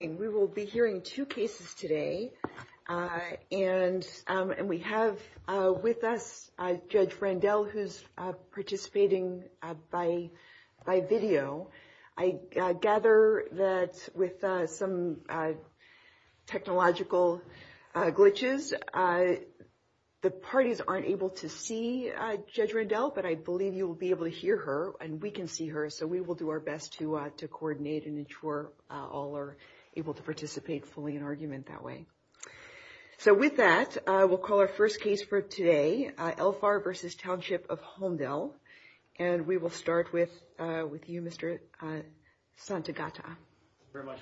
We will be hearing two cases today, and we have with us Judge Randall who is participating by video. I gather that with some technological glitches, the parties aren't able to see Judge Randall, but I believe you will be able to hear her and we can see her, so we will do our best to coordinate and ensure all are able to participate fully in argument that way. So with that, we'll call our first case for today, Elfar v. Township of Holmdel, and we will start with you, Mr. Santagata. Thank you very much.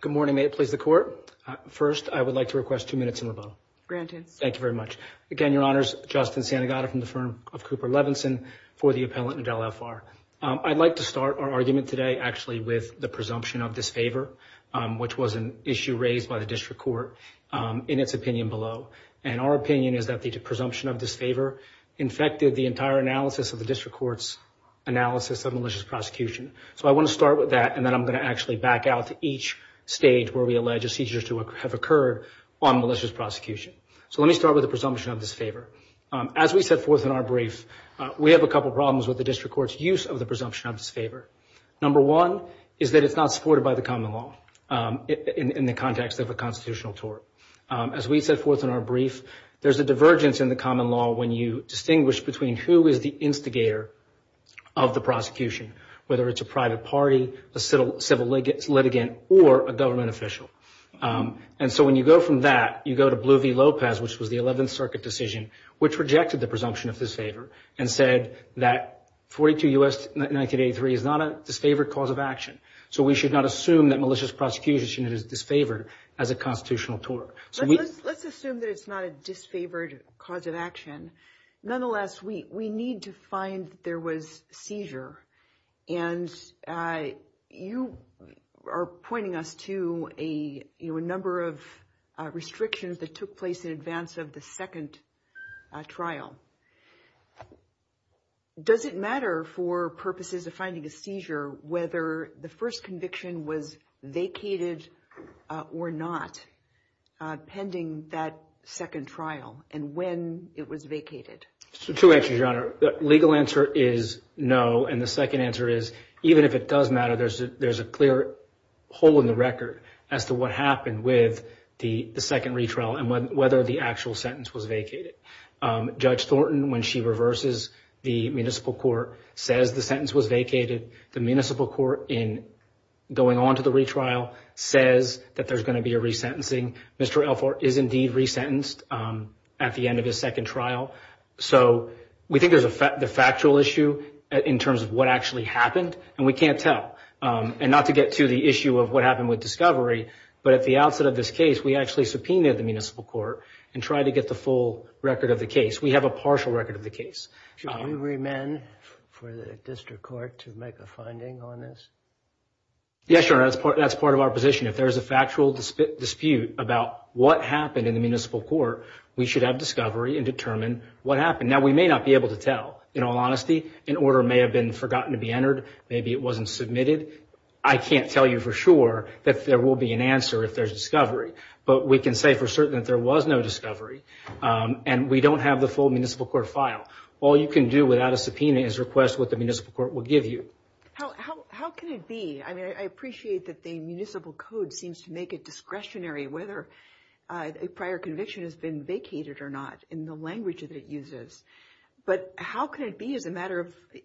Good morning. May it please the Court? First, I would like to request two minutes on the phone. Thank you very much. Again, Your Honors, Justin Santagata from the firm of Cooper Levinson for the appellant in Del Elfar. I'd like to start our argument today actually with the presumption of disfavor, which was an issue raised by the district court in its opinion below, and our opinion is that the presumption of disfavor infected the entire analysis of the district court's analysis of malicious prosecution. So I want to start with that, and then I'm going to actually back out to each stage where we allege a seizure to have occurred on malicious prosecution. So let me start with the presumption of disfavor. As we set forth in our brief, we have a couple problems with the district court's use of the presumption of disfavor. Number one is that it's not supported by the common law in the context of a constitutional tort. As we set forth in our brief, there's a divergence in the common law when you distinguish between who is the instigator of the prosecution, whether it's a private party, a civil litigant, or a government official. And so when you go from that, you go to Blue v. Lopez, which was the 11th Circuit decision, which rejected the presumption of disfavor and said that 42 U.S. 1983 is not a disfavored cause of action, so we should not assume that malicious prosecution is disfavored as a constitutional tort. Let's assume that it's not a disfavored cause of action. Nonetheless, we need to find that there was a seizure, and you are pointing us to a number of restrictions that took place in advance of the second trial. Does it matter for purposes of finding a seizure whether the first conviction was vacated or not pending that second trial and when it was vacated? It's true, actually, Your Honor. The legal answer is no, and the second answer is even if it does matter, there's a clear hole in the record as to what happened with the second retrial and whether the actual sentence was vacated. Judge Thornton, when she reverses the municipal court, says the sentence was vacated. The municipal court, in going on to the retrial, says that there's going to be a resentencing. Mr. Alfort is indeed resentenced at the end of the second trial, so we think there's a factual issue in terms of what actually happened, and we can't tell. And not to get to the issue of what happened with discovery, but at the outset of this case, we actually subpoenaed the municipal court and tried to get the full record of the case. We have a partial record of the case. Should we remand for the district court to make a finding on this? Yes, Your Honor. That's part of our position. If there's a factual dispute about what happened in the municipal court, we should have discovery and determine what happened. Now, we may not be able to tell. In all honesty, an order may have been forgotten to be entered. Maybe it wasn't submitted. I can't tell you for sure that there will be an answer if there's discovery, but we can say for certain that there was no discovery, and we don't have the full municipal court file. All you can do without a subpoena is request what the municipal court will give you. How can it be? I appreciate that the municipal code seems to make it discretionary whether a prior conviction has been vacated or not in the language that it uses, but how can it be as a matter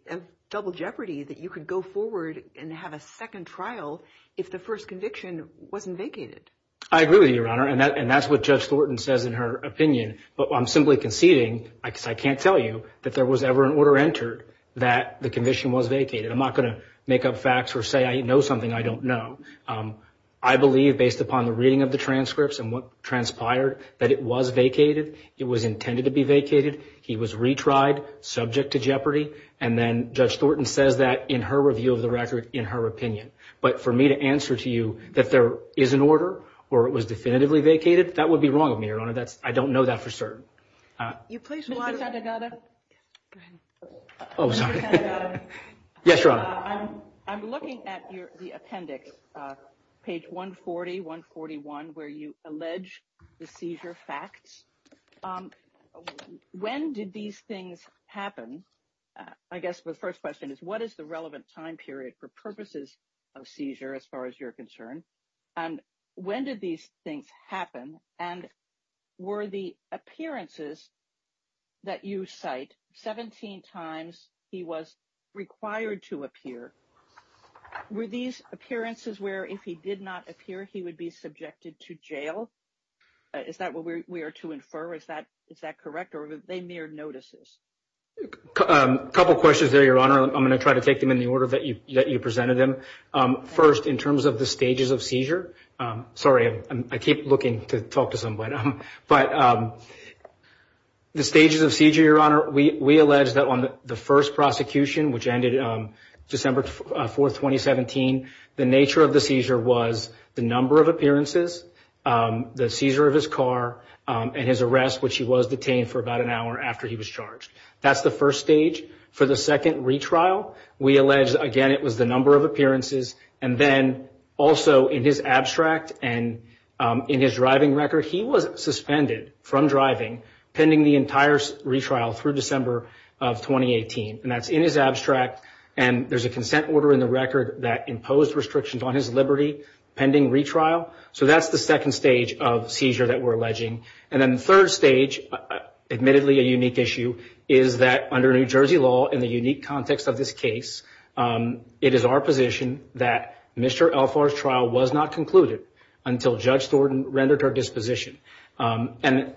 of double jeopardy that you could go forward and have a second trial if the first conviction wasn't vacated? I agree with you, Your Honor, and that's what Judge Thornton says in her opinion. I'm simply conceding, because I can't tell you, that there was ever an order entered that the conviction was vacated. I'm not going to make up facts or say I know something I don't know. I believe, based upon the reading of the transcripts and what transpired, that it was vacated. It was intended to be vacated. He was retried, subject to jeopardy, and then Judge Thornton says that in her review of the record in her opinion. But for me to answer to you that there is an order or it was definitively vacated, that would be wrong of me, Your Honor. I don't know that for certain. Can you please rewind that, another? Oh, sorry. Yes, Your Honor. I'm looking at the appendix, page 140, 141, where you allege the seizure facts. When did these things happen? I guess the first question is what is the relevant time period for purposes of seizure as far as you're concerned, and when did these things happen, and were the appearances that you cite, 17 times he was required to appear, were these appearances where if he did not appear he would be subjected to jail? Is that what we are to infer? Is that correct, or were they mere notices? A couple questions there, Your Honor. I'm going to try to take them in the order that you presented them. First, in terms of the stages of seizure. Sorry, I keep looking to talk to somebody. But the stages of seizure, Your Honor, we allege that on the first prosecution, which ended December 4, 2017, the nature of the seizure was the number of appearances, the seizure of his car, and his arrest, which he was detained for about an hour after he was charged. That's the first stage. For the second retrial, we allege, again, it was the number of appearances. And then also in his abstract and in his driving record, he was suspended from driving pending the entire retrial through December of 2018. And that's in his abstract. And there's a consent order in the record that imposed restrictions on his liberty pending retrial. So that's the second stage of seizure that we're alleging. And then the third stage, admittedly a unique issue, is that under New Jersey law, in the unique context of this case, it is our position that Mr. Alfar's trial was not concluded until Judge Thornton rendered her disposition. And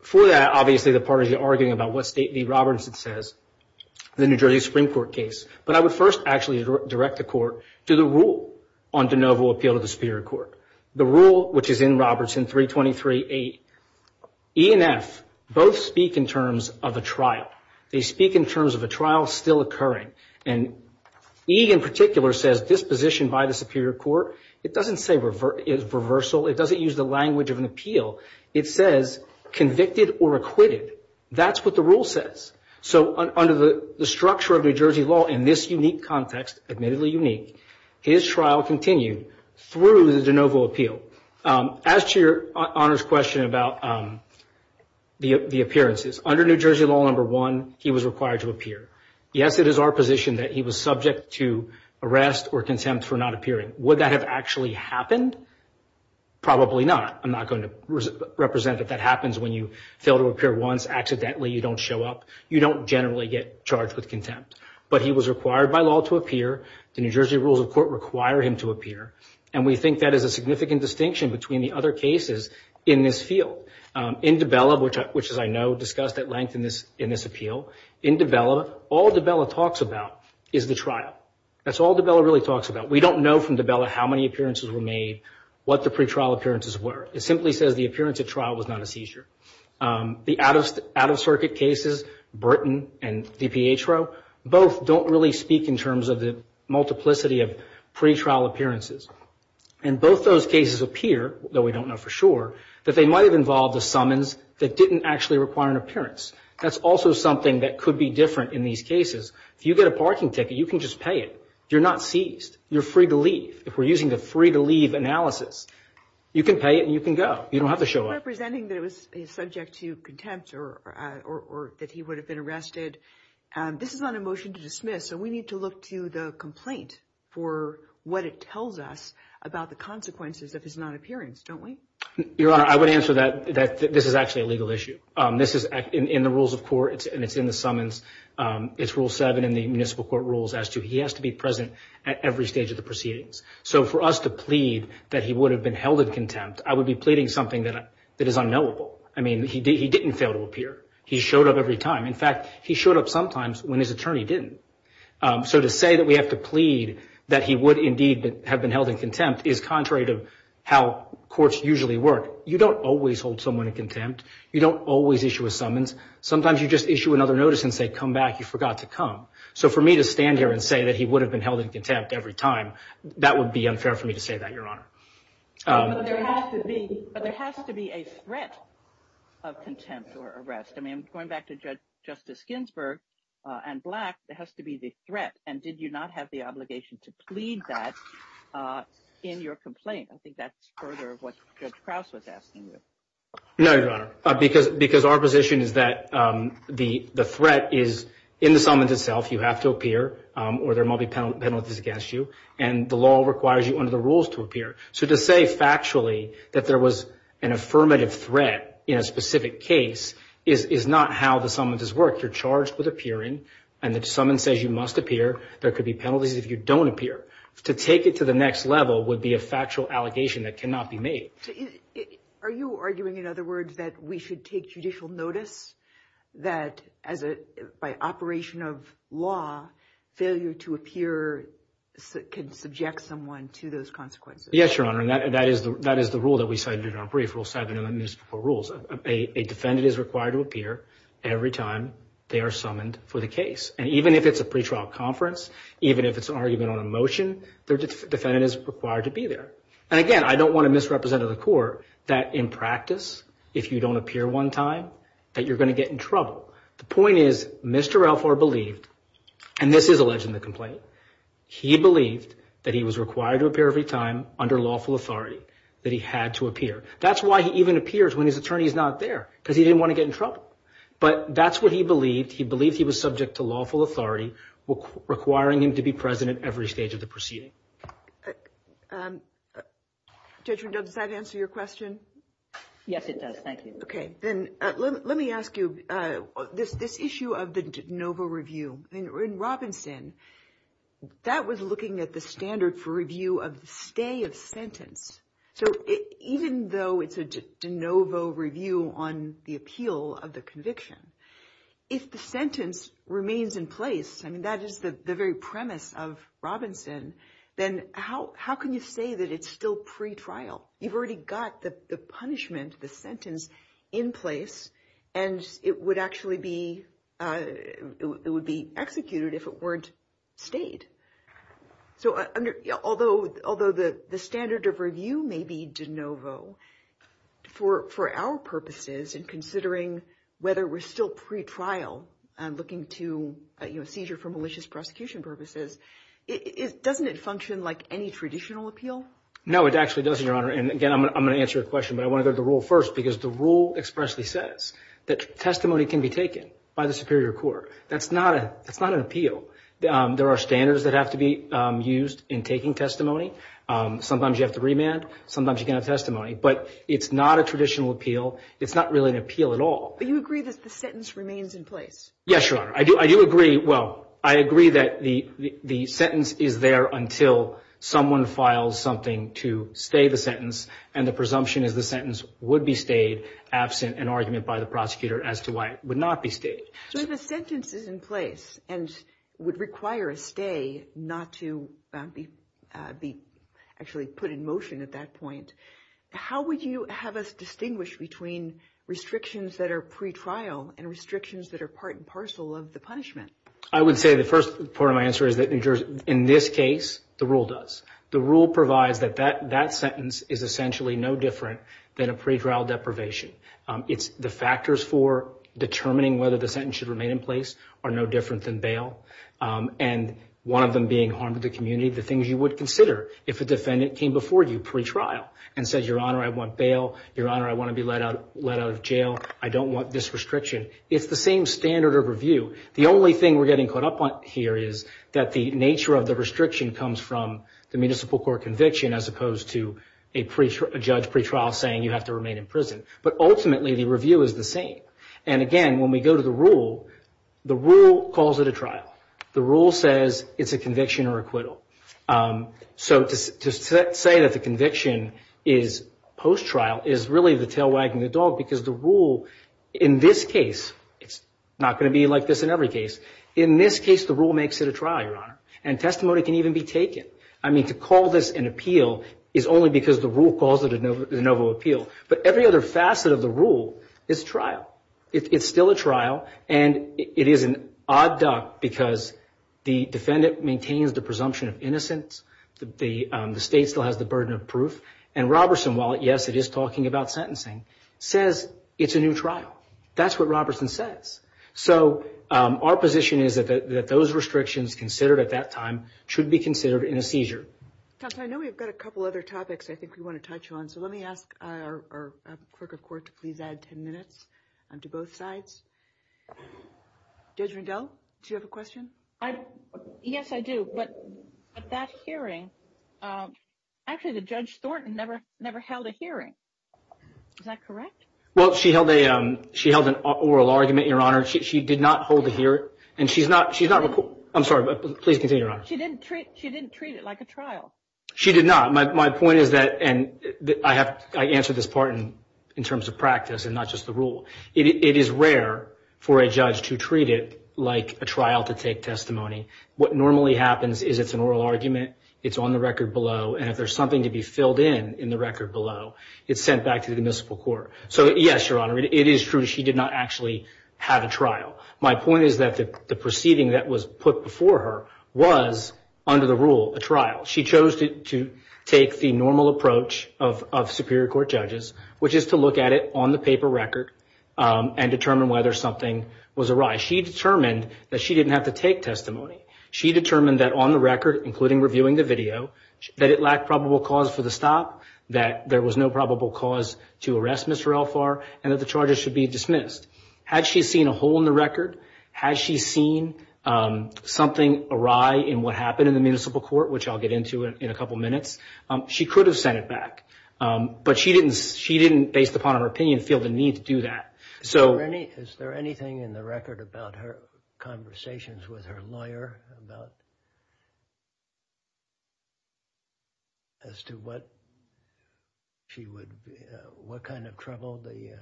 for that, obviously, the parties are arguing about what State v. Robertson says in the New Jersey Supreme Court case. But I would first actually direct the Court to the rule on de novo appeal to the Superior Court. The rule, which is in Robertson 323A, E and F both speak in terms of a trial. They speak in terms of a trial still occurring. And E in particular says disposition by the Superior Court. It doesn't say reversal. It doesn't use the language of an appeal. It says convicted or acquitted. That's what the rule says. So under the structure of New Jersey law in this unique context, admittedly unique, his trial continued through the de novo appeal. As to your Honor's question about the appearances, under New Jersey law number one, he was required to appear. Yes, it is our position that he was subject to arrest or contempt for not appearing. Would that have actually happened? Probably not. I'm not going to represent that that happens when you fail to appear once, accidentally you don't show up. You don't generally get charged with contempt. But he was required by law to appear. The New Jersey rules of court require him to appear. And we think that is a significant distinction between the other cases in this field. In DiBella, which as I know discussed at length in this appeal, in DiBella, all DiBella talks about is the trial. That's all DiBella really talks about. We don't know from DiBella how many appearances were made, what the pretrial appearances were. It simply says the appearance at trial was not a seizure. The out-of-circuit cases, Burton and DiPietro, both don't really speak in terms of the multiplicity of pretrial appearances. And both those cases appear, though we don't know for sure, that they might have involved a summons that didn't actually require an appearance. That's also something that could be different in these cases. If you get a parking ticket, you can just pay it. You're not seized. You're free to leave. If we're using the free-to-leave analysis, you can pay it and you can go. You don't have to show up. You're representing that it was subject to contempt or that he would have been arrested. This is not a motion to dismiss, so we need to look to the complaint for what it tells us about the consequences of his non-appearance, don't we? Your Honor, I would answer that this is actually a legal issue. This is in the rules of court and it's in the summons. It's Rule 7 in the municipal court rules as to he has to be present at every stage of the proceedings. So for us to plead that he would have been held in contempt, I would be pleading something that is unknowable. I mean, he didn't fail to appear. He showed up every time. In fact, he showed up sometimes when his attorney didn't. So to say that we have to plead that he would indeed have been held in contempt is contrary to how courts usually work. You don't always hold someone in contempt. You don't always issue a summons. Sometimes you just issue another notice and say, come back, you forgot to come. So for me to stand here and say that he would have been held in contempt every time, that would be unfair for me to say that, Your Honor. But there has to be a threat of contempt or arrest. I mean, going back to Justice Ginsburg and Black, there has to be the threat. And did you not have the obligation to plead that in your complaint? I think that's further what Judge Krause was asking you. No, Your Honor, because our position is that the threat is in the summons itself. You have to appear or there might be penalties against you. And the law requires you under the rules to appear. So to say factually that there was an affirmative threat in a specific case is not how the summonses work. You're charged with appearing and the summons says you must appear. There could be penalties if you don't appear. To take it to the next level would be a factual allegation that cannot be made. Are you arguing, in other words, that we should take judicial notice that by operation of law, failure to appear can subject someone to those consequences? Yes, Your Honor, and that is the rule that we cited in our brief. We'll cite it in the new rules. A defendant is required to appear every time they are summoned for the case. And even if it's a pretrial conference, even if it's an argument on a motion, the defendant is required to be there. And again, I don't want to misrepresent to the court that in practice, if you don't appear one time, that you're going to get in trouble. The point is Mr. Alfor believed, and this is alleged in the complaint, he believed that he was required to appear every time under lawful authority, that he had to appear. That's why he even appears when his attorney is not there, because he didn't want to get in trouble. But that's what he believed. He believed he was subject to lawful authority requiring him to be present at every stage of the proceeding. Judge Rendon, does that answer your question? Yes, it does. Thank you. Let me ask you, this issue of the de novo review, in Robinson, that was looking at the standard for review of the stay of sentence. So even though it's a de novo review on the appeal of the conviction, if the sentence remains in place, and that is the very premise of Robinson, then how can you say that it's still pretrial? You've already got the punishment, the sentence, in place, and it would actually be executed if it weren't stayed. Although the standard of review may be de novo, for our purposes in considering whether we're still pretrial, looking to seizure for malicious prosecution purposes, doesn't it function like any traditional appeal? No, it actually doesn't, Your Honor. And again, I'm going to answer your question, but I want to go to the rule first, because the rule expressly says that testimony can be taken by the Superior Court. That's not an appeal. There are standards that have to be used in taking testimony. Sometimes you have to remand. Sometimes you can have testimony. But it's not a traditional appeal. It's not really an appeal at all. But you agree that the sentence remains in place? Yes, Your Honor. I do agree. Well, I agree that the sentence is there until someone files something to stay the sentence, and the presumption is the sentence would be stayed absent an argument by the prosecutor as to why it would not be stayed. So if a sentence is in place and would require a stay not to be actually put in motion at that point, how would you have us distinguish between restrictions that are pretrial and restrictions that are part and parcel of the punishment? I would say the first part of my answer is that, in this case, the rule does. The rule provides that that sentence is essentially no different than a pretrial deprivation. The factors for determining whether the sentence should remain in place are no different than bail. And one of them being harm to the community, the things you would consider if a defendant came before you pretrial and said, Your Honor, I want bail. Your Honor, I want to be let out of jail. I don't want this restriction. It's the same standard of review. The only thing we're getting caught up on here is that the nature of the restriction comes from the municipal court conviction as opposed to a judge pretrial saying you have to remain in prison. But ultimately, the review is the same. And again, when we go to the rule, the rule calls it a trial. The rule says it's a conviction or acquittal. So to say that the conviction is post-trial is really the tail wagging the dog because the rule, in this case, it's not going to be like this in every case. In this case, the rule makes it a trial, Your Honor, and testimony can even be taken. I mean, to call this an appeal is only because the rule calls it a noble appeal. But every other facet of the rule is trial. It's still a trial, and it is an odd duck because the defendant maintains the presumption of innocence. The state still has the burden of proof. And Roberson, while, yes, it is talking about sentencing, says it's a new trial. That's what Roberson says. So our position is that those restrictions considered at that time should be considered in a seizure. I know we've got a couple other topics I think we want to touch on, so let me ask our clerk of court to please add 10 minutes to both sides. Judge Rendell, do you have a question? Yes, I do. But at that hearing, actually, Judge Thornton never held a hearing. Is that correct? Well, she held an oral argument, Your Honor. She did not hold a hearing. And she's not – I'm sorry. Please continue, Your Honor. She didn't treat it like a trial. She did not. My point is that – and I answered this part in terms of practice and not just the rule. It is rare for a judge to treat it like a trial to take testimony. What normally happens is it's an oral argument, it's on the record below, and if there's something to be filled in in the record below, it's sent back to the municipal court. So, yes, Your Honor, it is true she did not actually have a trial. My point is that the proceeding that was put before her was, under the rule, a trial. She chose to take the normal approach of superior court judges, which is to look at it on the paper record and determine whether something was awry. She determined that she didn't have to take testimony. She determined that on the record, including reviewing the video, that it lacked probable cause for the stop, that there was no probable cause to arrest Ms. Ralfar, and that the charges should be dismissed. Had she seen a hole in the record? Has she seen something awry in what happened in the municipal court, which I'll get into in a couple minutes? She could have sent it back, but she didn't, based upon her opinion, feel the need to do that. Is there anything in the record about her conversations with her lawyer as to what kind of trouble the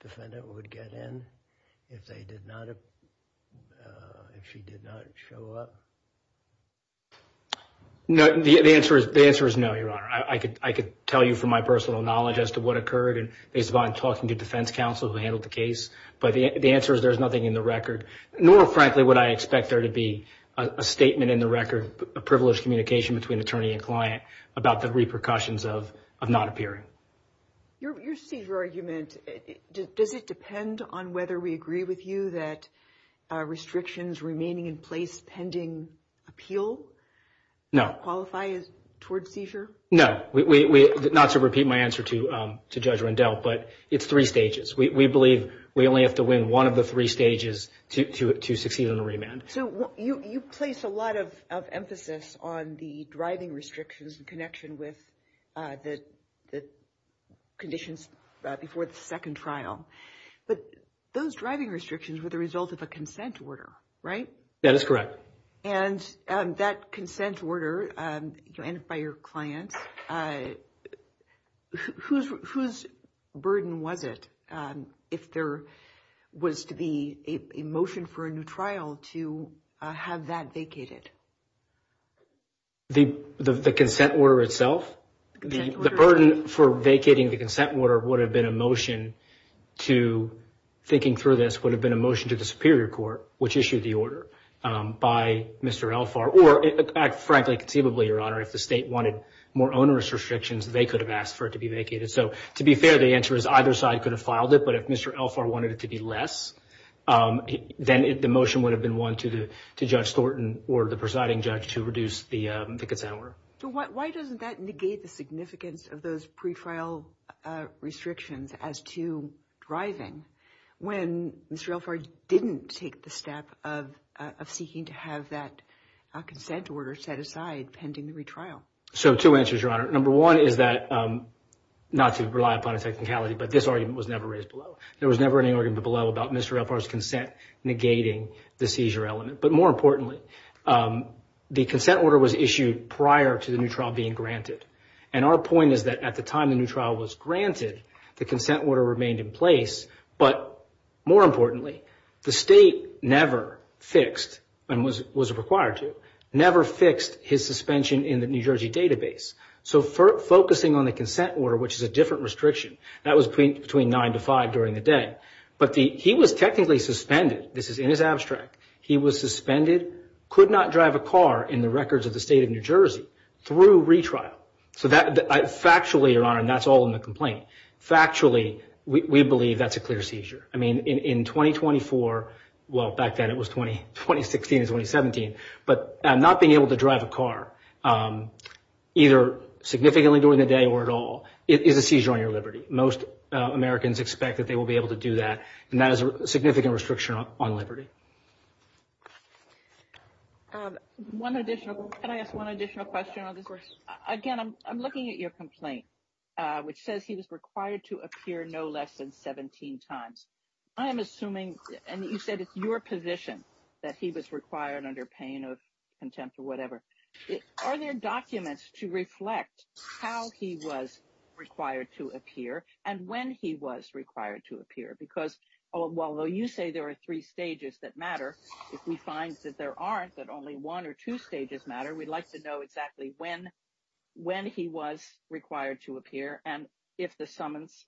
defendant would get in if she did not show up? The answer is no, Your Honor. I could tell you from my personal knowledge as to what occurred based upon talking to defense counsel who handled the case, but the answer is there's nothing in the record, nor, frankly, would I expect there to be a statement in the record, a privileged communication between attorney and client, about the repercussions of not appearing. Your seizure argument, does it depend on whether we agree with you that restrictions remaining in place pending appeal? No. Does that qualify toward seizure? No. Not to repeat my answer to Judge Rendell, but it's three stages. We believe we only have to win one of the three stages to succeed on a remand. So you place a lot of emphasis on the driving restrictions in connection with the conditions before the second trial, but those driving restrictions were the result of a consent order, right? That is correct. And that consent order by your client, whose burden was it if there was to be a motion for a new trial to have that vacated? The consent order itself? The burden for vacating the consent order would have been a motion to, thinking through this, would have been a motion to the Superior Court, which issued the order by Mr. Elphar, or, frankly, conceivably, Your Honor, if the state wanted more onerous restrictions, they could have asked for it to be vacated. So to be fair, the answer is either side could have filed it, but if Mr. Elphar wanted it to be less, then the motion would have been won to Judge Thornton or the presiding judge to reduce the consent order. So why doesn't that negate the significance of those pretrial restrictions as to driving when Mr. Elphar didn't take the step of seeking to have that consent order set aside pending the retrial? So two answers, Your Honor. Number one is that, not to rely upon a technicality, but this argument was never raised below. There was never any argument below about Mr. Elphar's consent negating the seizure element. But more importantly, the consent order was issued prior to the new trial being granted, and our point is that at the time the new trial was granted, the consent order remained in place, but more importantly, the state never fixed, and was required to, never fixed his suspension in the New Jersey database. So focusing on the consent order, which is a different restriction, that was between nine to five during the day, but he was technically suspended. This is in his abstract. He was suspended, could not drive a car in the records of the state of New Jersey through retrial. So factually, Your Honor, and that's all in the complaint, factually, we believe that's a clear seizure. I mean, in 2024, well, back then it was 2016 and 2017, but not being able to drive a car, either significantly during the day or at all, is a seizure on your liberty. Most Americans expect that they will be able to do that, and that is a significant restriction on liberty. Can I ask one additional question on this? Of course. Again, I'm looking at your complaint, which says he was required to appear no less than 17 times. I am assuming, and you said it's your position that he was required under pain of contempt or whatever. Are there documents to reflect how he was required to appear and when he was required to appear? Because although you say there are three stages that matter, if we find that there aren't, that only one or two stages matter, we'd like to know exactly when he was required to appear and if the summons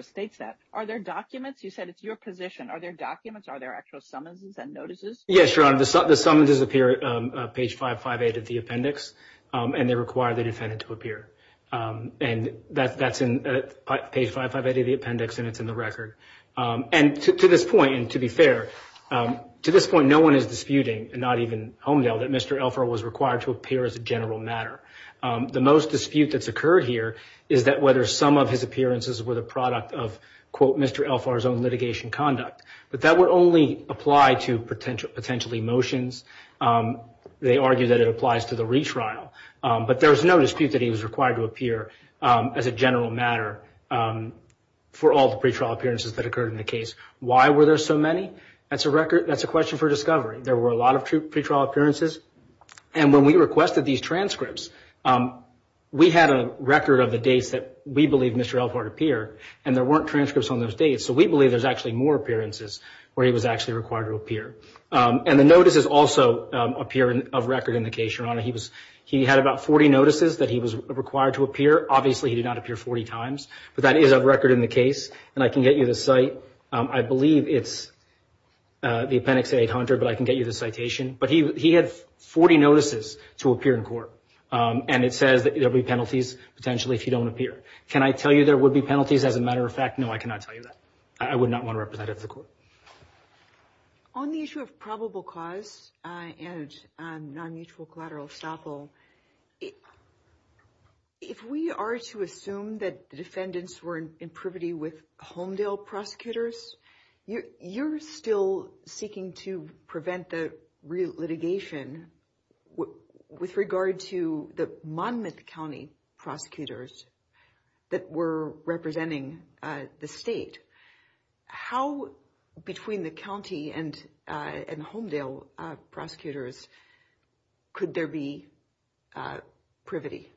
states that. Are there documents? You said it's your position. Are there documents? Are there actual summonses and notices? Yes, Your Honor. The summonses appear at page 558 of the appendix, and they require the defendant to appear. And that's in page 558 of the appendix, and it's in the record. And to this point, and to be fair, to this point no one is disputing, not even Homedale, that Mr. Elfar was required to appear as a general matter. The most dispute that's occurred here is that whether some of his appearances were the product of, quote, Mr. Elfar's own litigation conduct. But that would only apply to potential emotions. They argue that it applies to the retrial. But there's no dispute that he was required to appear as a general matter for all the pretrial appearances that occurred in the case. Why were there so many? That's a question for discovery. There were a lot of pretrial appearances, and when we requested these transcripts, we had a record of the dates that we believe Mr. Elfar appeared, and there weren't transcripts on those dates. So we believe there's actually more appearances where he was actually required to appear. And the notices also appear of record in the case, Your Honor. He had about 40 notices that he was required to appear. Obviously he did not appear 40 times, but that is of record in the case. And I can get you the cite. I believe it's the appendix 800, but I can get you the citation. But he had 40 notices to appear in court, and it says there will be penalties potentially if you don't appear. Can I tell you there would be penalties as a matter of fact? No, I cannot tell you that. I would not want to represent it at the court. On the issue of probable cause and non-mutual collateral estoppel, if we are to assume that the defendants were in privity with Homedale prosecutors, you're still seeking to prevent the litigation with regard to the Monmouth County prosecutors that were representing the state. How, between the county and Homedale prosecutors, could there be privity?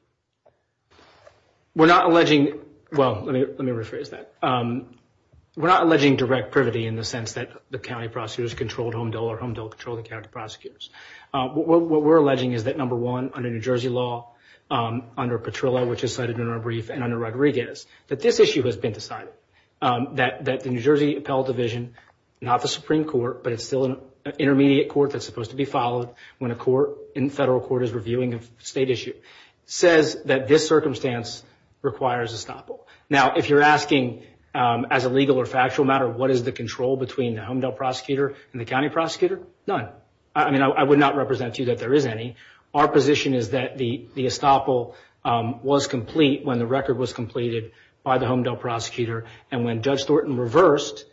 We're not alleging, well, let me rephrase that. We're not alleging direct privity in the sense that the county prosecutors controlled Homedale or Homedale controlled the county prosecutors. What we're alleging is that, number one, under New Jersey law, under Petrillo, which is cited in our brief, and under Rodriguez, that this issue has been decided, that the New Jersey Appellate Division, not the Supreme Court, but it's still an intermediate court that's supposed to be followed when a federal court is reviewing a state issue, says that this circumstance requires estoppel. Now, if you're asking, as a legal or factual matter, what is the control between the Homedale prosecutor and the county prosecutor, none. I mean, I would not represent to you that there is any. Our position is that the estoppel was complete when the record was completed by the Homedale prosecutor, and when Judge Thornton reversed,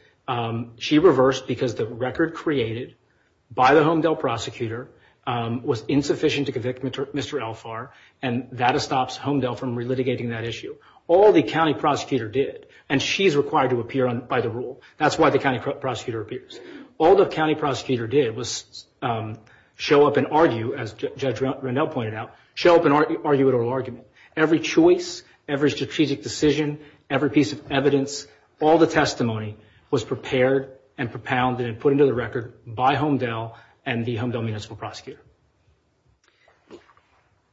she reversed because the record created by the Homedale prosecutor was insufficient to convict Mr. Alfar, and that stops Homedale from relitigating that issue. All the county prosecutor did, and she's required to appear by the rule. That's why the county prosecutor appears. All the county prosecutor did was show up and argue, as Judge Rannell pointed out, show up and argue an oral argument. Every choice, every strategic decision, every piece of evidence, all the testimony was prepared and propounded and put into the record by Homedale and the Homedale municipal prosecutor.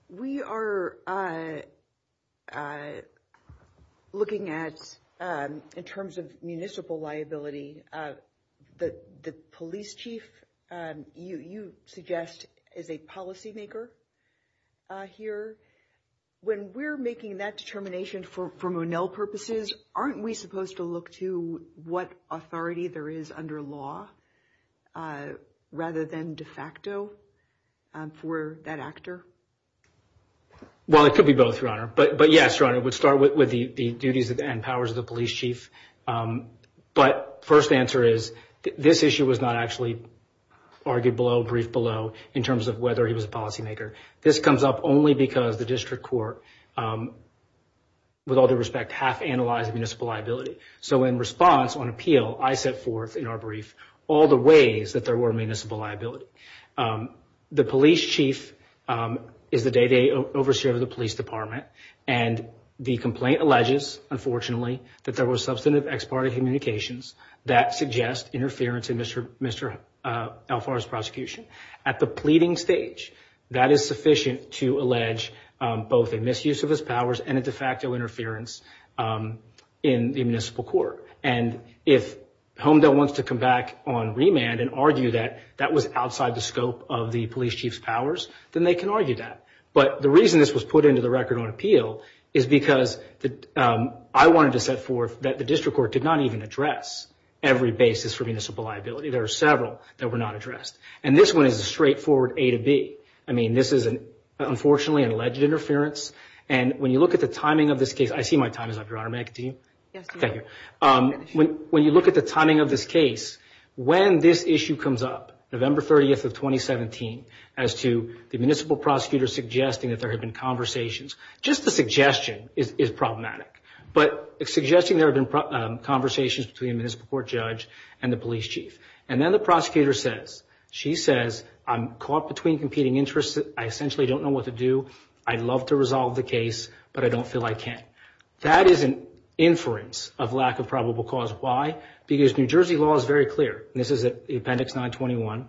We are looking at, in terms of municipal liability, the police chief, you suggest, is a policymaker here. When we're making that determination for Monell purposes, aren't we supposed to look to what authority there is under law rather than de facto for that actor? Well, it could be both, Your Honor, but yes, Your Honor, it would start with the duties and powers of the police chief, but first answer is this issue was not actually argued below, briefed below, in terms of whether he was a policymaker. This comes up only because the district court, with all due respect, has analyzed municipal liability, so in response, on appeal, I set forth in our brief all the ways that there were municipal liability. The police chief is the day-to-day overseer of the police department, and the complaint alleges, unfortunately, that there were substantive ex parte communications that suggest interference in Mr. Alfaro's prosecution. At the pleading stage, that is sufficient to allege both a misuse of his powers and a de facto interference in municipal court, and if Homedel wants to come back on remand and argue that that was outside the scope of the police chief's powers, then they can argue that, but the reason this was put into the record on appeal is because I wanted to set forth that the district court did not even address every basis for municipal liability. There are several that were not addressed, and this one is a straightforward A to B. I mean, this is, unfortunately, an alleged interference, and when you look at the timing of this case, I see my time is up. Do you want me to continue? Yes. Thank you. When you look at the timing of this case, when this issue comes up, November 30th of 2017, as to the municipal prosecutor suggesting that there have been conversations, just the suggestion is problematic, but suggesting there have been conversations between the municipal court judge and the police chief, and then the prosecutor says, she says, I'm caught between competing interests. I essentially don't know what to do. I'd love to resolve the case, but I don't feel I can. That is an inference of lack of probable cause. Why? Because New Jersey law is very clear, and this is Appendix 921.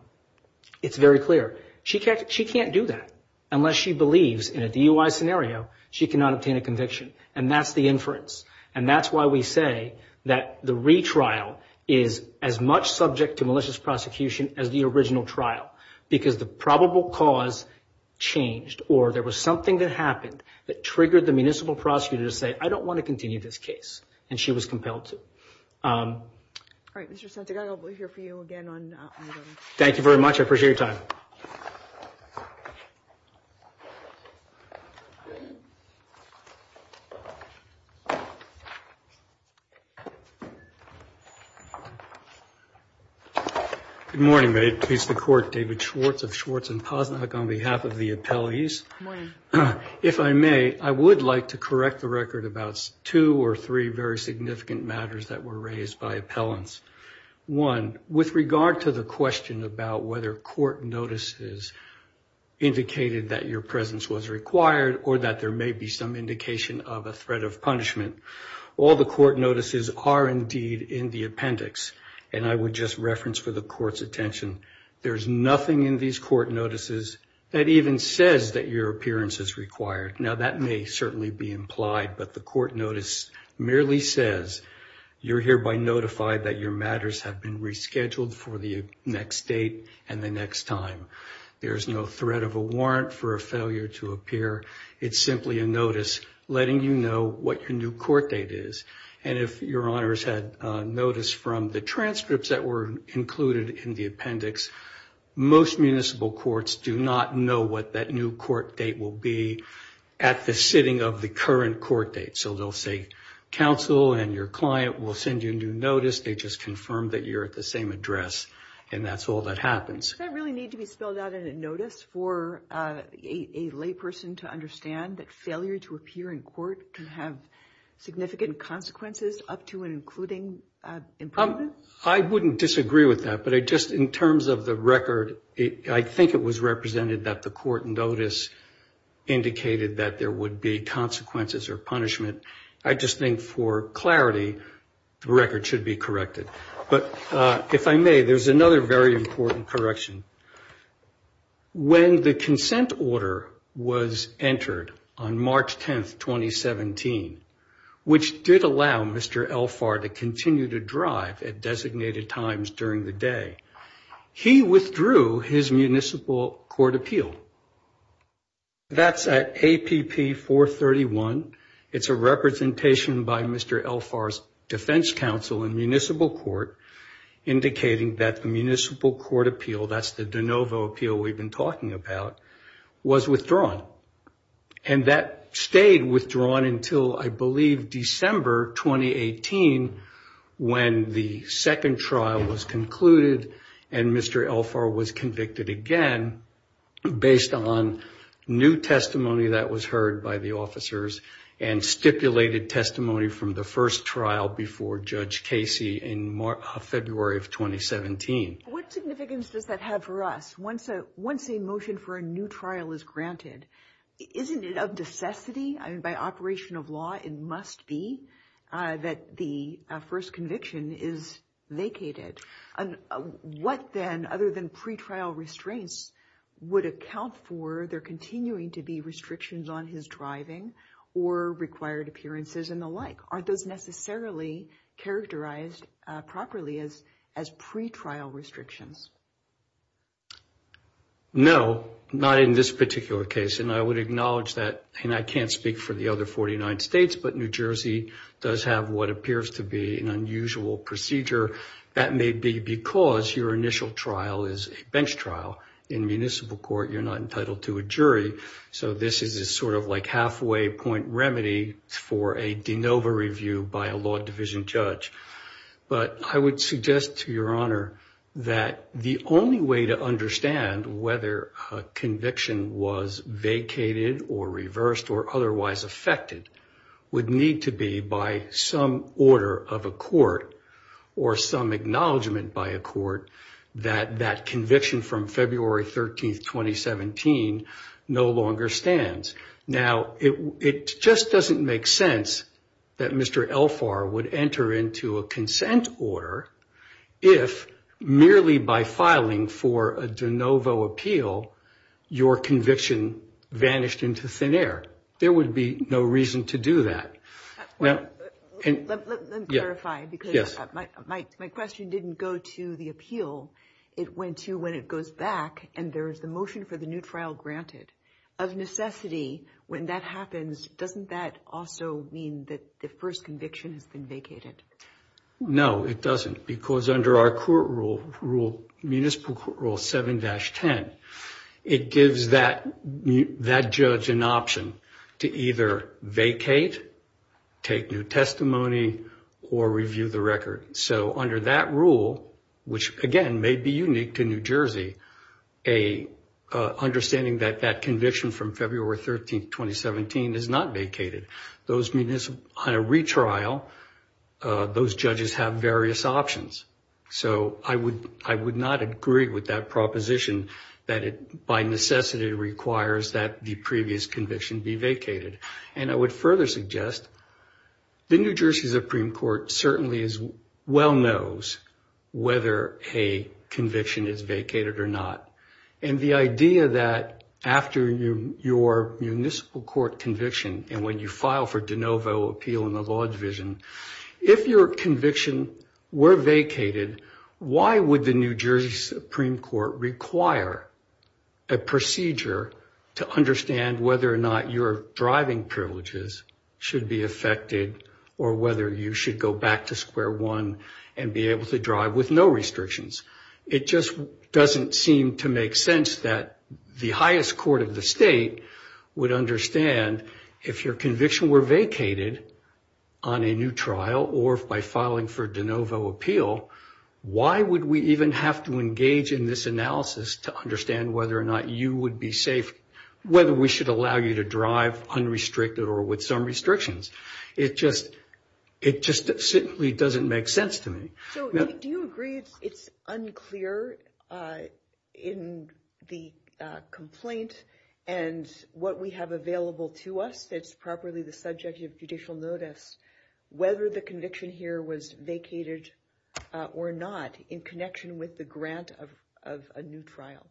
It's very clear. She can't do that unless she believes in a DUI scenario she cannot obtain a conviction, and that's the inference, and that's why we say that the retrial is as much subject to malicious prosecution as the original trial, because the probable cause changed, or there was something that happened that triggered the municipal prosecutor to say, I don't want to continue this case, and she was compelled to. All right, Mr. Snoddy, I don't want to hear from you again. Thank you very much. I appreciate your time. Good morning. May it please the Court, David Schwartz of Schwartz & Posnack on behalf of the appellees. Good morning. If I may, I would like to correct the record about two or three very significant matters that were raised by appellants. One, with regard to the question about whether court notices indicated that your presence was required or that there may be some indication of a threat of punishment, all the court notices are indeed in the appendix, and I would just reference for the Court's attention, there is nothing in these court notices that even says that your appearance is required. Now, that may certainly be implied, but the court notice merely says you're hereby notified that your matters have been rescheduled for the next date and the next time. There is no threat of a warrant for a failure to appear. It's simply a notice letting you know what your new court date is, and if your honors had notice from the transcripts that were included in the appendix, most municipal courts do not know what that new court date will be at the sitting of the current court date, so they'll say, counsel and your client will send you a new notice. They just confirm that you're at the same address, and that's all that happens. Does that really need to be spelled out in a notice for a layperson to understand that failure to appear in court can have significant consequences up to and including imprisonment? I wouldn't disagree with that, but just in terms of the record, I think it was represented that the court notice indicated that there would be consequences or punishment. I just think for clarity, the record should be corrected. If I may, there's another very important correction. When the consent order was entered on March 10, 2017, which did allow Mr. Elphar to continue to drive at designated times during the day, he withdrew his municipal court appeal. That's at APP 431. It's a representation by Mr. Elphar's defense counsel in municipal court indicating that the municipal court appeal, that's the de novo appeal we've been talking about, was withdrawn. And that stayed withdrawn until, I believe, December 2018, when the second trial was concluded and Mr. Elphar was convicted again, based on new testimony that was heard by the officers and stipulated testimony from the first trial before Judge Casey in February of 2017. What significance does that have for us? Once a motion for a new trial is granted, isn't it of necessity? By operation of law, it must be that the first conviction is vacated. What then, other than pretrial restraints, would account for there continuing to be restrictions on his driving or required appearances and the like? Aren't those necessarily characterized properly as pretrial restrictions? No, not in this particular case. And I would acknowledge that, and I can't speak for the other 49 states, but New Jersey does have what appears to be an unusual procedure that may be because your initial trial is a bench trial. In municipal court, you're not entitled to a jury, so this is a sort of like halfway point remedy for a de novo review by a law division judge. But I would suggest to Your Honor that the only way to understand whether a conviction was vacated or reversed or otherwise affected would need to be by some order of a court or some acknowledgement by a court that that conviction from February 13, 2017, no longer stands. Now, it just doesn't make sense that Mr. Elphar would enter into a consent order if merely by filing for a de novo appeal, your conviction vanished into thin air. There would be no reason to do that. Let me clarify, because my question didn't go to the appeal. It went to when it goes back and there's a motion for the new trial granted. Of necessity, when that happens, doesn't that also mean that the first conviction has been vacated? No, it doesn't, because under our municipal court rule 7-10, it gives that judge an option to either vacate, take new testimony, or review the record. So under that rule, which again may be unique to New Jersey, an understanding that that conviction from February 13, 2017 is not vacated. On a retrial, those judges have various options. So I would not agree with that proposition that it by necessity requires that the previous conviction be vacated. And I would further suggest the New Jersey Supreme Court certainly well knows whether a conviction is vacated or not. And the idea that after your municipal court conviction and when you file for de novo appeal in the law division, if your conviction were vacated, why would the New Jersey Supreme Court require a procedure to understand whether or not your driving privileges should be affected or whether you should go back to square one and be able to drive with no restrictions? It just doesn't seem to make sense that the highest court of the state would understand if your conviction were vacated on a new trial or by filing for de novo appeal, why would we even have to engage in this analysis to understand whether or not you would be safe, whether we should allow you to drive unrestricted or with some restrictions? It just simply doesn't make sense to me. So do you agree it's unclear in the complaint and what we have available to us that's properly the subject of judicial notice whether the conviction here was vacated or not in connection with the grant of a new trial?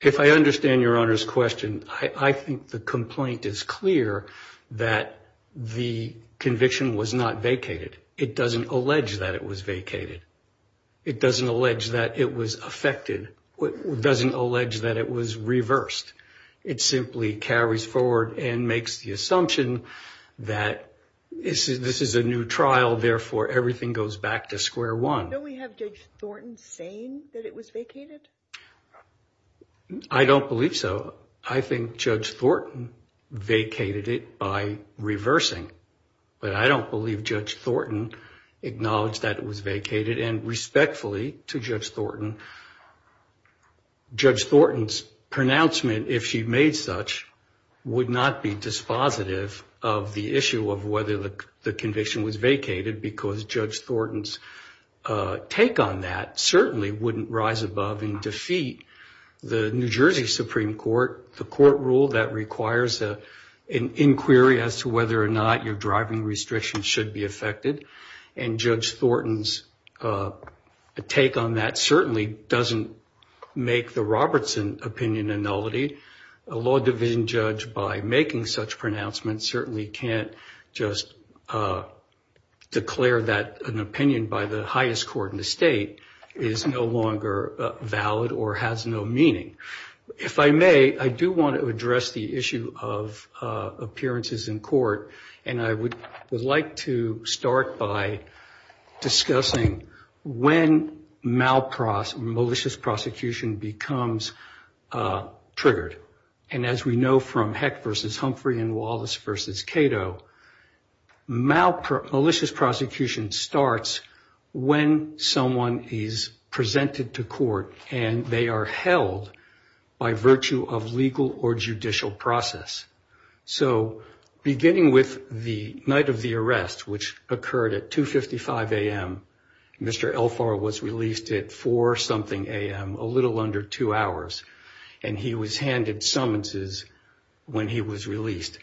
If I understand Your Honor's question, I think the complaint is clear that the conviction was not vacated. It doesn't allege that it was vacated. It doesn't allege that it was affected. It doesn't allege that it was reversed. It simply carries forward and makes the assumption that this is a new trial, therefore everything goes back to square one. Don't we have Judge Thornton saying that it was vacated? I don't believe so. I think Judge Thornton vacated it by reversing. But I don't believe Judge Thornton acknowledged that it was vacated. And respectfully to Judge Thornton, Judge Thornton's pronouncement, if she made such, would not be dispositive of the issue of whether the conviction was vacated because Judge Thornton's take on that certainly wouldn't rise above and defeat the New Jersey Supreme Court, the court rule that requires an inquiry as to whether or not your driving restrictions should be affected. And Judge Thornton's take on that certainly doesn't make the Robertson opinion a nullity. A law division judge, by making such pronouncements, certainly can't just declare that an opinion by the highest court in the state is no longer valid or has no meaning. If I may, I do want to address the issue of appearances in court, and I would like to start by discussing when malicious prosecution becomes triggered. And as we know from Heck versus Humphrey and Wallace versus Cato, malicious prosecution starts when someone is presented to court, and they are held by virtue of legal or judicial process. So beginning with the night of the arrest, which occurred at 2.55 a.m., Mr. Elphar was released at 4 something a.m., a little under two hours, and he was handed summonses when he was released.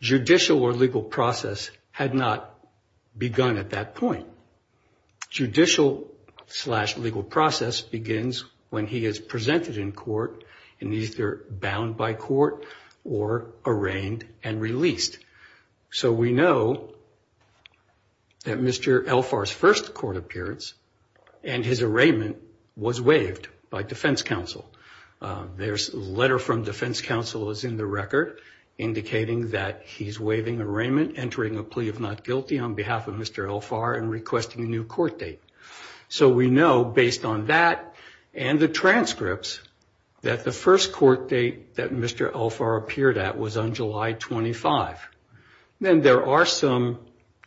Judicial or legal process had not begun at that point. Judicial slash legal process begins when he is presented in court and either bound by court or arraigned and released. So we know that Mr. Elphar's first court appearance and his arraignment was waived by defense counsel. There's a letter from defense counsel that's in the record indicating that he's waiving arraignment, entering a plea of not guilty on behalf of Mr. Elphar, and requesting a new court date. So we know, based on that and the transcripts, that the first court date that Mr. Elphar appeared at was on July 25. Then there are some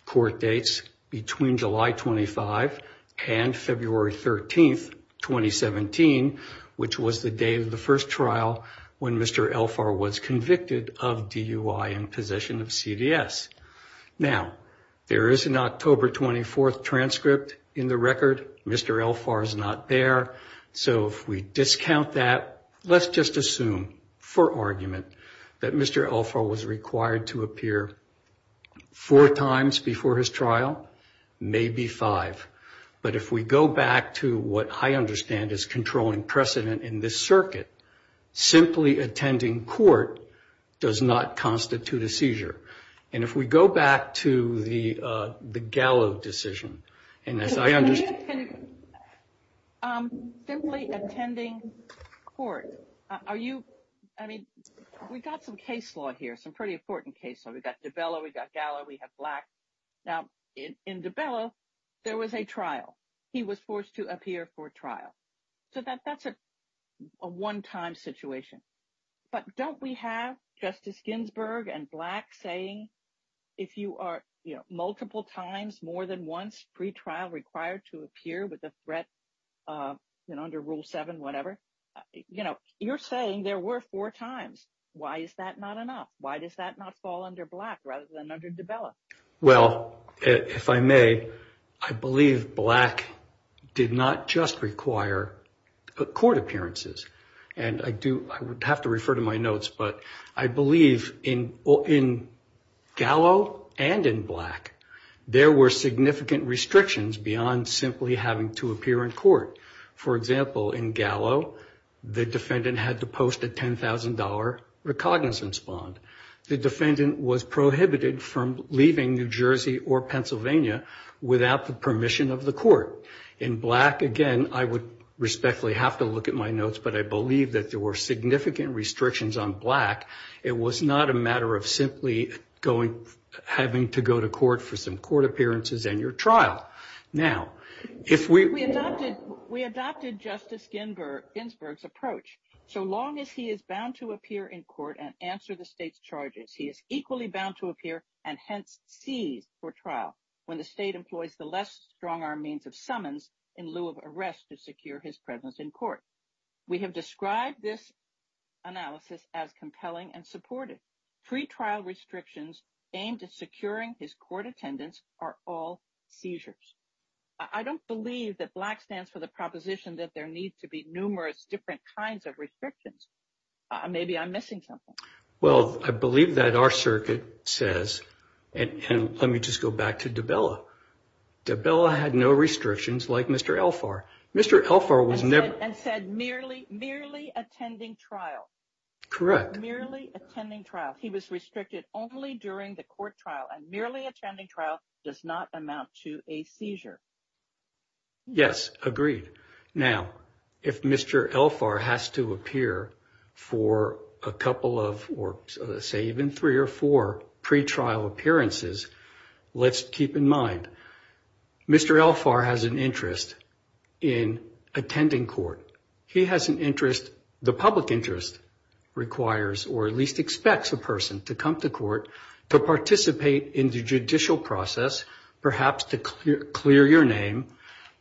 court dates between July 25 and February 13, 2017, which was the date of the first trial when Mr. Elphar was convicted of DUI and possession of CVS. Now, there is an October 24 transcript in the record. Mr. Elphar is not there. So if we discount that, let's just assume for argument that Mr. Elphar was required to appear four times before his trial, maybe five. But if we go back to what I understand is controlling precedent in this circuit, simply attending court does not constitute a seizure. And if we go back to the Gallo decision, and as I understand – Simply attending court. Are you – I mean, we've got some case law here, some pretty important case law. We've got DiBello, we've got Gallo, we have Black. Now, in DiBello, there was a trial. He was forced to appear for trial. So that's a one-time situation. But don't we have Justice Ginsburg and Black saying if you are multiple times, more than once, pre-trial required to appear with a threat under Rule 7, whatever, you're saying there were four times. Why is that not enough? Why does that not fall under Black rather than under DiBello? Well, if I may, I believe Black did not just require court appearances. And I do have to refer to my notes, but I believe in Gallo and in Black, there were significant restrictions beyond simply having to appear in court. For example, in Gallo, the defendant had to post a $10,000 recognizance bond. The defendant was prohibited from leaving New Jersey or Pennsylvania without the permission of the court. In Black, again, I would respectfully have to look at my notes, but I believe that there were significant restrictions on Black. It was not a matter of simply having to go to court for some court appearances and your trial. We adopted Justice Ginsburg's approach. So long as he is bound to appear in court and answer the state's charges, he is equally bound to appear and hence cease for trial when the state employs the less strong arm means of summons in lieu of arrest to secure his presence in court. We have described this analysis as compelling and supportive. Pre-trial restrictions aimed at securing his court attendance are all seizures. I don't believe that Black stands for the proposition that there needs to be numerous different kinds of restrictions. Maybe I'm missing something. Well, I believe that our circuit says, and let me just go back to Dabella. Dabella had no restrictions like Mr. Elphar. Mr. Elphar was never... And said merely attending trial. Correct. Merely attending trial. He was restricted only during the court trial and merely attending trial does not amount to a seizure. Yes, agreed. Now, if Mr. Elphar has to appear for a couple of or say even three or four pre-trial appearances, let's keep in mind, Mr. Elphar has an interest in attending court. He has an interest, the public interest requires or at least expects a person to come to court to participate in the judicial process, perhaps to clear your name,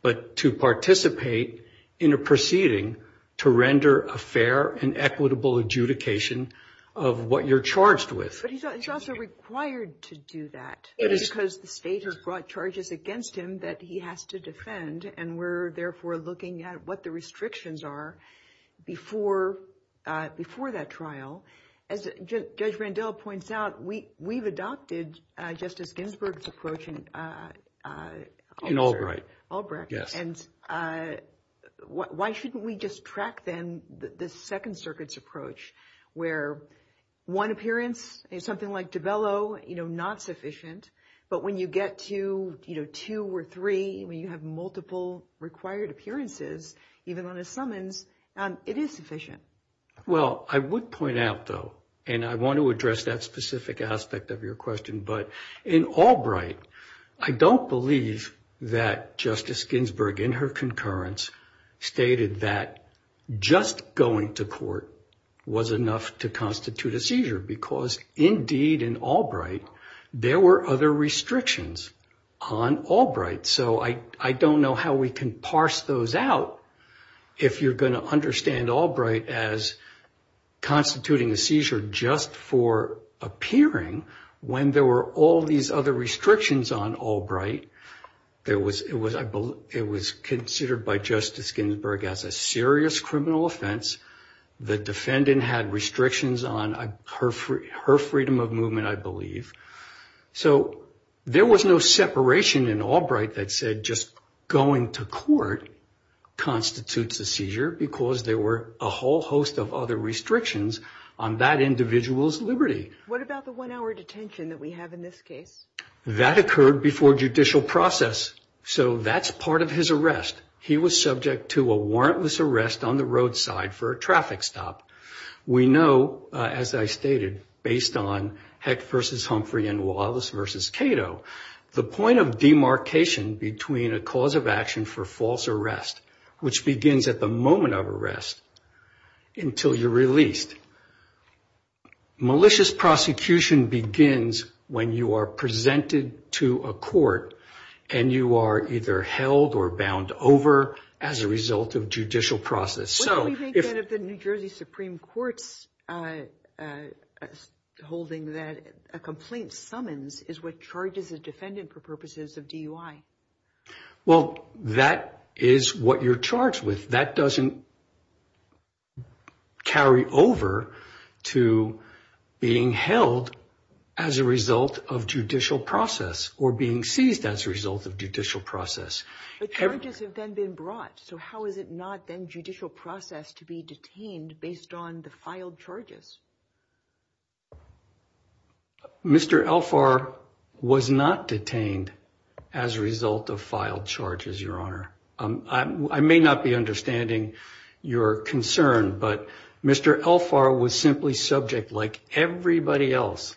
but to participate in a proceeding to render a fair and equitable adjudication of what you're charged with. But he's also required to do that because the state has brought charges against him that he has to defend and we're therefore looking at what the restrictions are before that trial. As Judge Vandell points out, we've adopted Justice Ginsburg's approach in... In Albright. Albright. And why shouldn't we just track then the Second Circuit's approach where one appearance is something like Dabella, you know, not sufficient, but when you get to, you know, two or three, when you have multiple required appearances, even on a summons, it is sufficient. Well, I would point out though, and I want to address that specific aspect of your question, but in Albright, I don't believe that Justice Ginsburg in her concurrence stated that just going to court was enough to constitute a seizure because indeed in Albright, there were other restrictions on Albright. So I don't know how we can parse those out if you're going to understand Albright as constituting a seizure just for appearing when there were all these other restrictions on Albright. It was considered by Justice Ginsburg as a serious criminal offense. The defendant had restrictions on her freedom of movement, I believe. So there was no separation in Albright that said just going to court constitutes a seizure because there were a whole host of other restrictions on that individual's liberty. What about the one-hour detention that we have in this case? That occurred before judicial process. So that's part of his arrest. He was subject to a warrantless arrest on the roadside for a traffic stop. We know, as I stated, based on Heck v. Humphrey and Wallace v. Cato, the point of demarcation between a cause of action for false arrest, which begins at the moment of arrest until you're released, malicious prosecution begins when you are presented to a court and you are either held or bound over as a result of judicial process. What do we think of the New Jersey Supreme Court's holding that a complaint summons is what charges a defendant for purposes of DUI? Well, that is what you're charged with. That doesn't carry over to being held as a result of judicial process or being seized as a result of judicial process. The charges have then been brought. So how is it not then judicial process to be detained based on the filed charges? Mr. Elphar was not detained as a result of filed charges, Your Honor. I may not be understanding your concern, but Mr. Elphar was simply subject, like everybody else,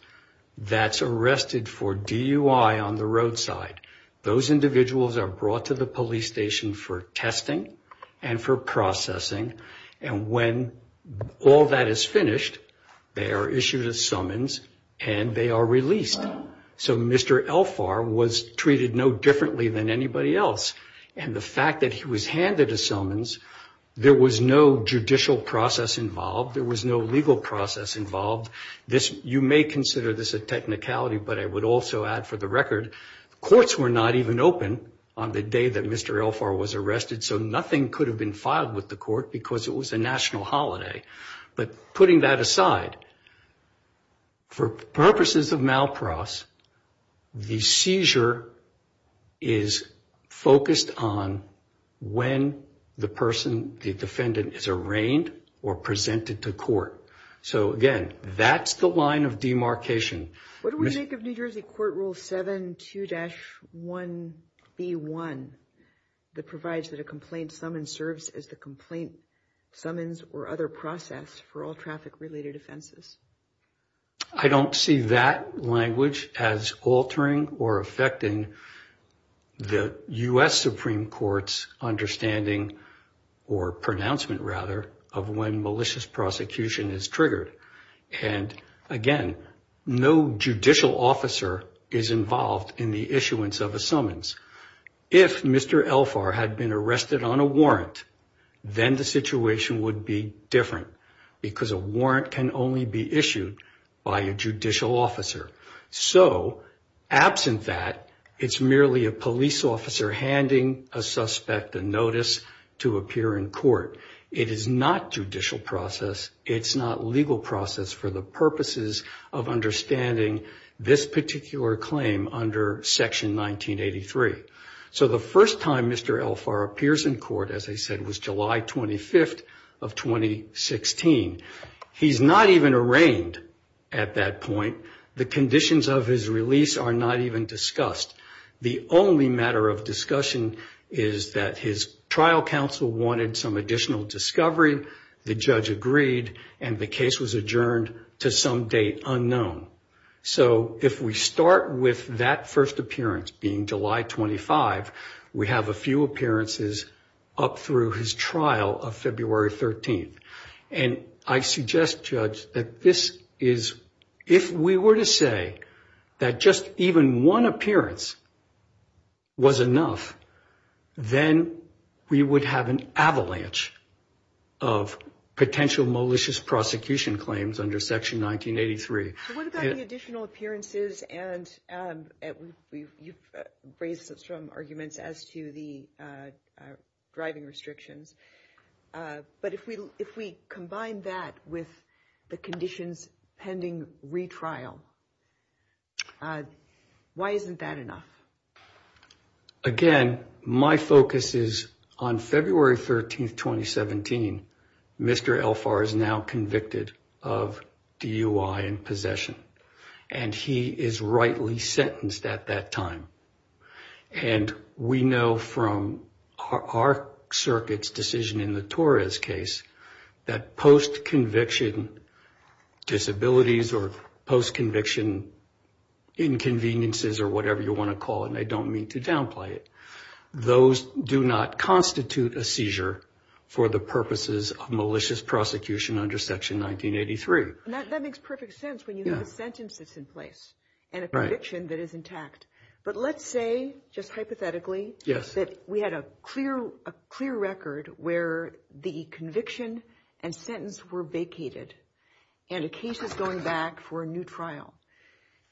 that's arrested for DUI on the roadside. Those individuals are brought to the police station for testing and for processing. And when all that is finished, they are issued a summons and they are released. So Mr. Elphar was treated no differently than anybody else. And the fact that he was handed a summons, there was no judicial process involved. There was no legal process involved. You may consider this a technicality, but I would also add for the record, courts were not even open on the day that Mr. Elphar was arrested. So nothing could have been filed with the court because it was a national holiday. But putting that aside, for purposes of Malcross, the seizure is focused on when the person, the defendant, is arraigned or presented to court. So, again, that's the line of demarcation. What do we make of New Jersey Court Rule 72-1E1 that provides that a complaint summons serves as the complaint summons or other process for all traffic-related offenses? I don't see that language as altering or affecting the U.S. Supreme Court's understanding or pronouncement, rather, of when malicious prosecution is triggered. And, again, no judicial officer is involved in the issuance of a summons. If Mr. Elphar had been arrested on a warrant, then the situation would be different because a warrant can only be issued by a judicial officer. So, absent that, it's merely a police officer handing a suspect a notice to appear in court. It is not judicial process. It's not legal process for the purposes of understanding this particular claim under Section 1983. So the first time Mr. Elphar appears in court, as I said, was July 25th of 2016. He's not even arraigned at that point. The conditions of his release are not even discussed. The only matter of discussion is that his trial counsel wanted some additional discovery. The judge agreed, and the case was adjourned to some date unknown. So if we start with that first appearance being July 25th, we have a few appearances up through his trial of February 13th. And I suggest, Judge, that this is, if we were to say that just even one appearance was enough, then we would have an avalanche of potential malicious prosecution claims under Section 1983. So what about the additional appearances? And you've raised some arguments as to the driving restriction. But if we combine that with the conditions pending retrial, why isn't that enough? Again, my focus is on February 13th, 2017, Mr. Elphar is now convicted of DUI and possession. And he is rightly sentenced at that time. And we know from our circuit's decision in the Torres case that post-conviction disabilities or post-conviction inconveniences or whatever you want to call it, and I don't mean to downplay it, those do not constitute a seizure for the purposes of malicious prosecution under Section 1983. And that makes perfect sense when you have a sentence that's in place and a conviction that is intact. But let's say, just hypothetically, that we had a clear record where the conviction and sentence were vacated and a case is going back for a new trial.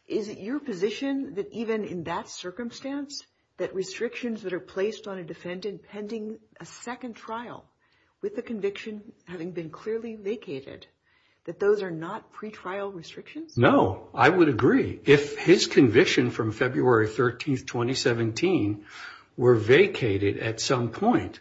Is it your position that even in that circumstance, that restrictions that are placed on a defendant pending a second trial with the conviction having been clearly vacated, that those are not pretrial restrictions? No, I would agree. If his conviction from February 13th, 2017 were vacated at some point,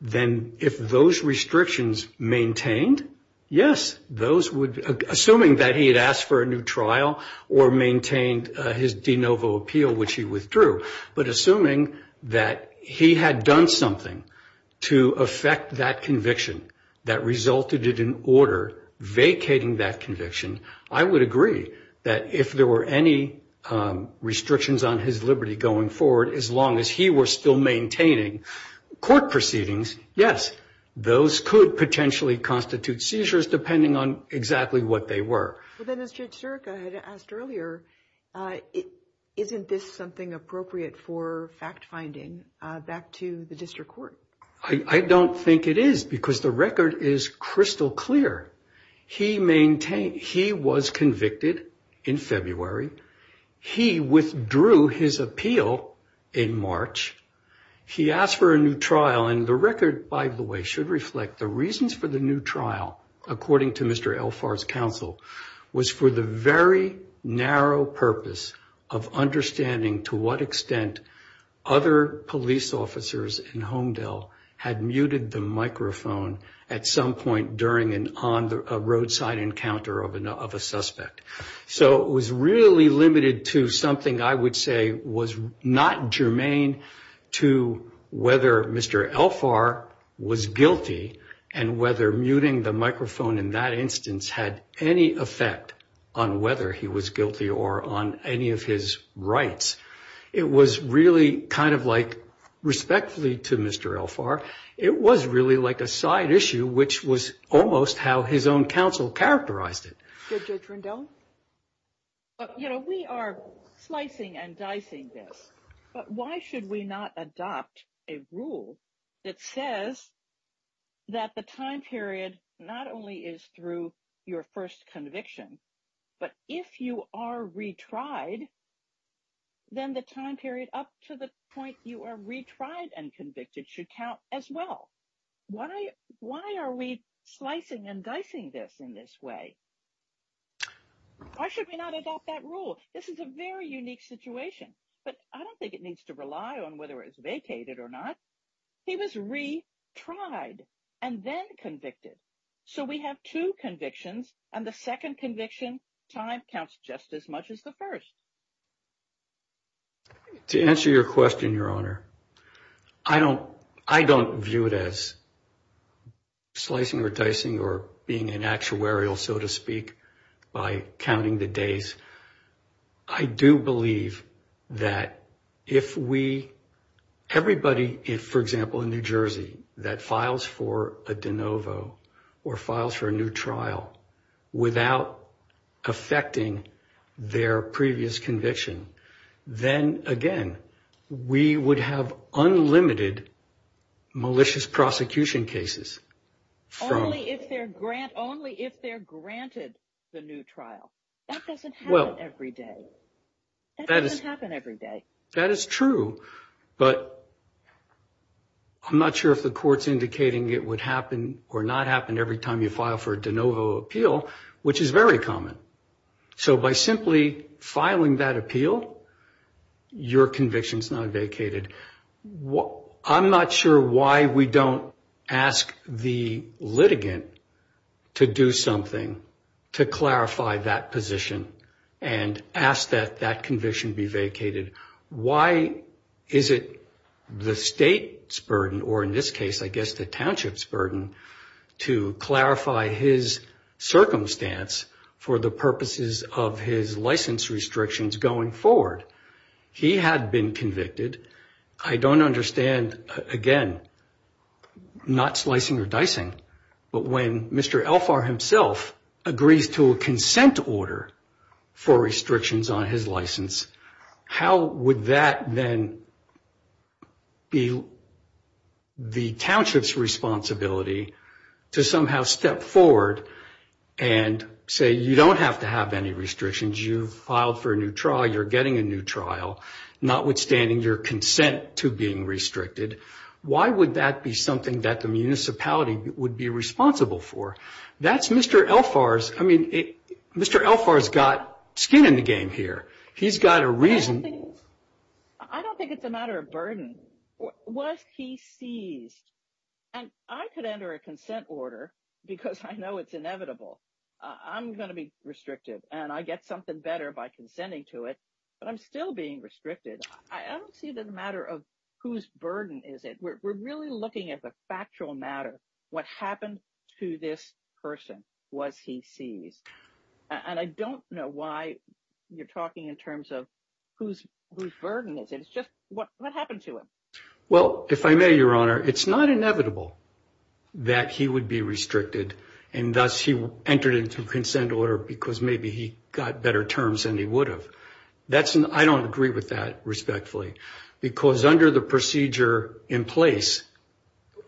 then if those restrictions maintained, yes, assuming that he had asked for a new trial or maintained his de novo appeal, which he withdrew, but assuming that he had done something to affect that conviction that resulted in an order vacating that conviction, I would agree that if there were any restrictions on his liberty going forward, as long as he were still maintaining court proceedings, yes, those could potentially constitute seizures depending on exactly what they were. Well, then, as Judge Zurich had asked earlier, isn't this something appropriate for fact-finding back to the district court? I don't think it is because the record is crystal clear. He was convicted in February. He withdrew his appeal in March. He asked for a new trial, and the record, by the way, should reflect the reasons for the new trial, according to Mr. Elphar's counsel, was for the very narrow purpose of understanding to what extent other police officers in Homedale had muted the microphone at some point during a roadside encounter of a suspect. So it was really limited to something I would say was not germane to whether Mr. Elphar was guilty and whether muting the microphone in that instance had any effect on whether he was guilty or on any of his rights. It was really kind of like, respectfully to Mr. Elphar, it was really like a side issue, which was almost how his own counsel characterized it. Thank you, Judge Rendon. You know, we are slicing and dicing this, but why should we not adopt a rule that says that the time period not only is through your first conviction, but if you are retried, then the time period up to the point you are retried and convicted should count as well. Why are we slicing and dicing this in this way? Why should we not adopt that rule? This is a very unique situation, but I don't think it needs to rely on whether it's vacated or not. He was retried and then convicted. So we have two convictions, and the second conviction time counts just as much as the first. To answer your question, Your Honor, I don't view it as slicing or dicing or being an actuarial, so to speak, by counting the days. I do believe that if everybody, for example, in New Jersey, that files for a de novo or files for a new trial without affecting their previous conviction, then, again, we would have unlimited malicious prosecution cases. Only if they're granted the new trial. That doesn't happen every day. That doesn't happen every day. That is true, but I'm not sure if the court's indicating it would happen or not happen every time you file for a de novo appeal, which is very common. So by simply filing that appeal, your conviction is not vacated. I'm not sure why we don't ask the litigant to do something to clarify that position and ask that that conviction be vacated. Why is it the state's burden, or in this case, I guess, the township's burden, to clarify his circumstance for the purposes of his license restrictions going forward? He had been convicted. I don't understand, again, not slicing or dicing, but when Mr. Elfar himself agrees to a consent order for restrictions on his license, how would that then be the township's responsibility to somehow step forward and say, you don't have to have any restrictions. You filed for a new trial. You're getting a new trial, notwithstanding your consent to being restricted. Why would that be something that the municipality would be responsible for? That's Mr. Elfar's, I mean, Mr. Elfar's got skin in the game here. He's got a reason. I don't think it's a matter of burden. Was he seized? And I could enter a consent order because I know it's inevitable. I'm going to be restricted, and I get something better by consenting to it, but I'm still being restricted. I don't see it as a matter of whose burden is it. We're really looking at the factual matter, what happened to this person, what he seized. And I don't know why you're talking in terms of whose burden is it. It's just what happened to him. Well, if I may, Your Honor, it's not inevitable that he would be restricted and thus he entered into a consent order because maybe he got better terms than he would have. I don't agree with that, respectfully, because under the procedure in place,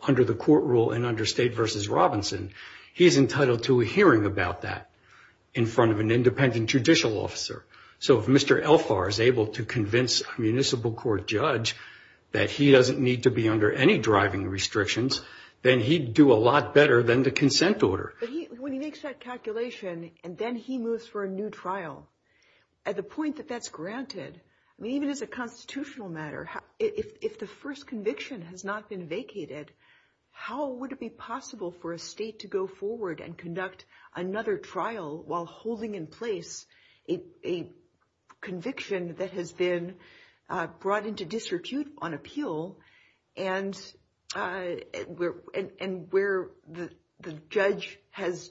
under the court rule and under State v. Robinson, he's entitled to a hearing about that in front of an independent judicial officer. So if Mr. Elphar is able to convince a municipal court judge that he doesn't need to be under any driving restrictions, then he'd do a lot better than the consent order. When he makes that calculation and then he moves for a new trial, at the point that that's granted, even as a constitutional matter, if the first conviction has not been vacated, how would it be possible for a state to go forward and conduct another trial while holding in place a conviction that has been brought into disrepute on appeal and where the judge has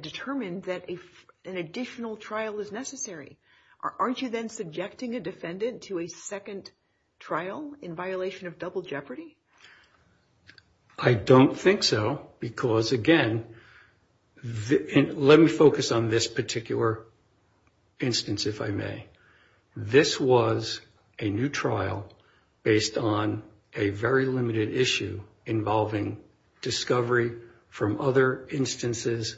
determined that an additional trial is necessary? Aren't you then subjecting a defendant to a second trial in violation of double jeopardy? I don't think so because, again, let me focus on this particular instance, if I may. This was a new trial based on a very limited issue involving discovery from other instances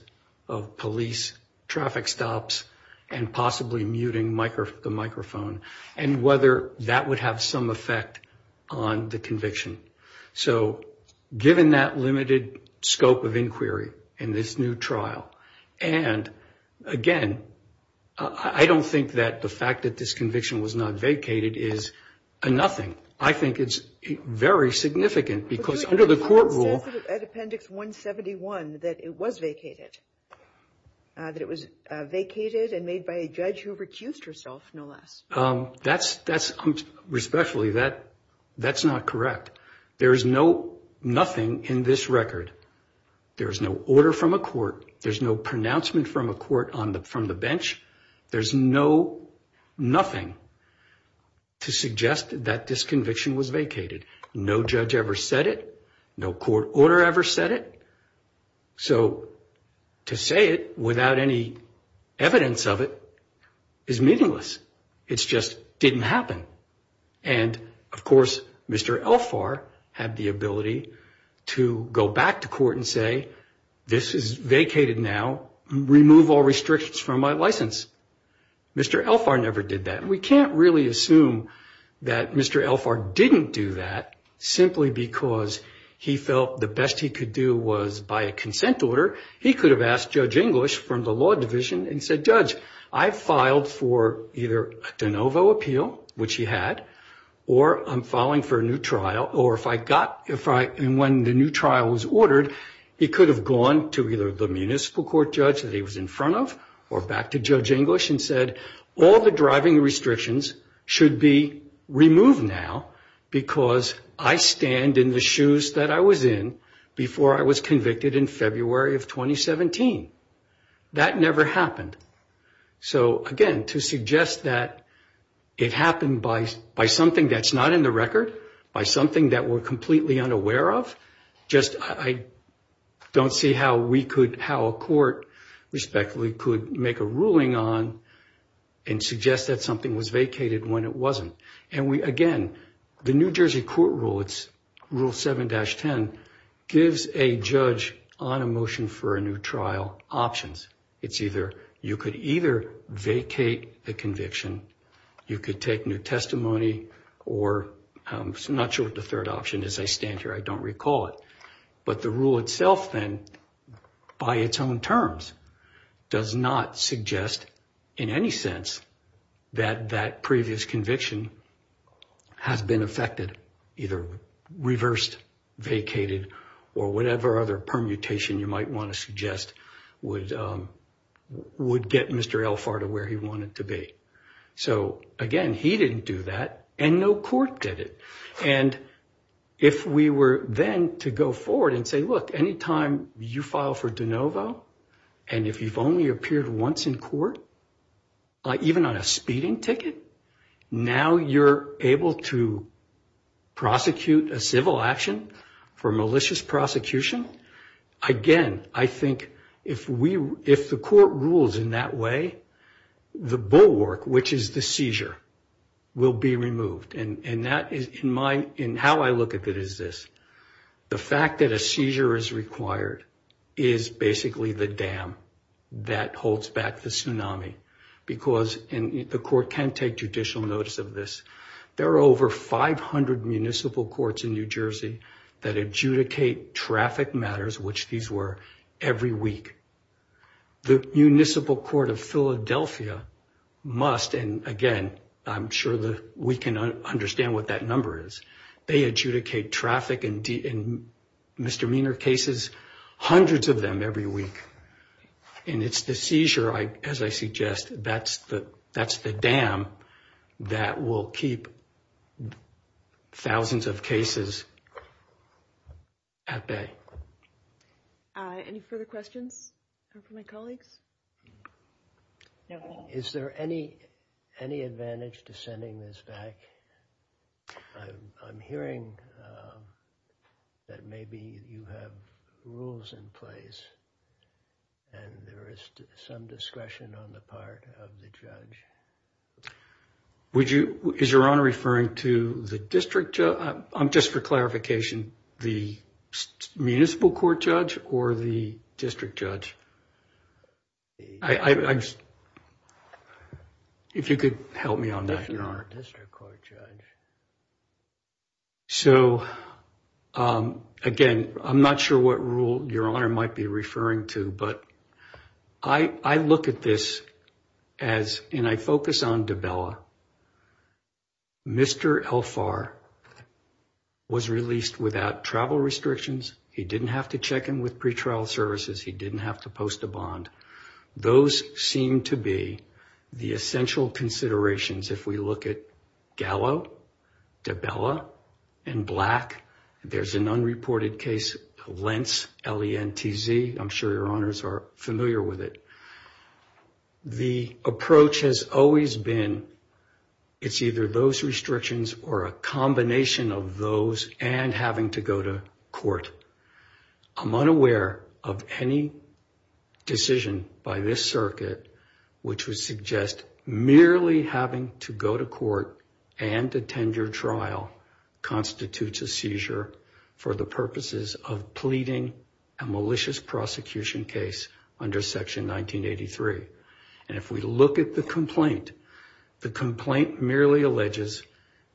of police traffic stops and possibly muting the microphone and whether that would have some effect on the conviction. So given that limited scope of inquiry in this new trial and, again, I don't think that the fact that this conviction was not vacated is nothing. I think it's very significant because under the court rule... That's not correct. There is no nothing in this record. There is no order from a court. There's no pronouncement from a court from the bench. There's no nothing to suggest that this conviction was vacated. No judge ever said it. No court order ever said it. So to say it without any evidence of it is meaningless. It just didn't happen. And, of course, Mr. Elphar had the ability to go back to court and say, this is vacated now, remove all restrictions from my license. Mr. Elphar never did that. We can't really assume that Mr. Elphar didn't do that simply because he felt the best he could do was buy a consent order. He could have asked Judge English from the law division and said, Judge, I filed for either a de novo appeal, which he had, or I'm filing for a new trial, or if I got...and when the new trial was ordered, he could have gone to either the municipal court judge that he was in front of or back to Judge English and said, all the driving restrictions should be removed now because I stand in the shoes that I was in before I was convicted in February of 2017. That never happened. So, again, to suggest that it happened by something that's not in the record, by something that we're completely unaware of, I don't see how a court, respectfully, could make a ruling on and suggest that something was vacated when it wasn't. Again, the New Jersey court rule, it's rule 7-10, gives a judge on a motion for a new trial options. It's either you could either vacate the conviction, you could take new testimony, or, I'm not sure what the third option is, I stand here, I don't recall it, but the rule itself then, by its own terms, does not suggest in any sense that that previous conviction has been effected, either reversed, vacated, or whatever other permutation you might want to suggest would get Mr. Alfardo where he wanted to be. So, again, he didn't do that, and no court did it. And if we were then to go forward and say, look, anytime you file for de novo, and if you've only appeared once in court, even on a speeding ticket, now you're able to prosecute a civil action for malicious prosecution. Again, I think if the court rules in that way, the bulwark, which is the seizure, will be removed. And how I look at it is this. The fact that a seizure is required is basically the dam that holds back the tsunami, because the court can take judicial notice of this. There are over 500 municipal courts in New Jersey that adjudicate traffic matters, which these were, every week. The Municipal Court of Philadelphia must, and again, I'm sure that we can understand what that number is, they adjudicate traffic and misdemeanor cases, hundreds of them every week. And it's the seizure, as I suggest, that's the dam that will keep thousands of cases at bay. Any further questions from my colleagues? Is there any advantage to sending this back? I'm hearing that maybe you have rules in place, and there is some discretion on the part of the judge. Is your honor referring to the district judge? Just for clarification, the municipal court judge or the district judge? If you could help me on that, your honor. So, again, I'm not sure what rule your honor might be referring to, but I look at this as, and I focus on Davila. Mr. Elphar was released without travel restrictions. He didn't have to check in with pretrial services. He didn't have to post a bond. Those seem to be the essential considerations if we look at Gallo, Davila, and Black. There's an unreported case, Lentz, L-E-N-T-Z. I'm sure your honors are familiar with it. The approach has always been it's either those restrictions or a combination of those and having to go to court. I'm unaware of any decision by this circuit which would suggest merely having to go to court and attend your trial constitutes a seizure for the purposes of pleading a malicious prosecution case under Section 1983. And if we look at the complaint, the complaint merely alleges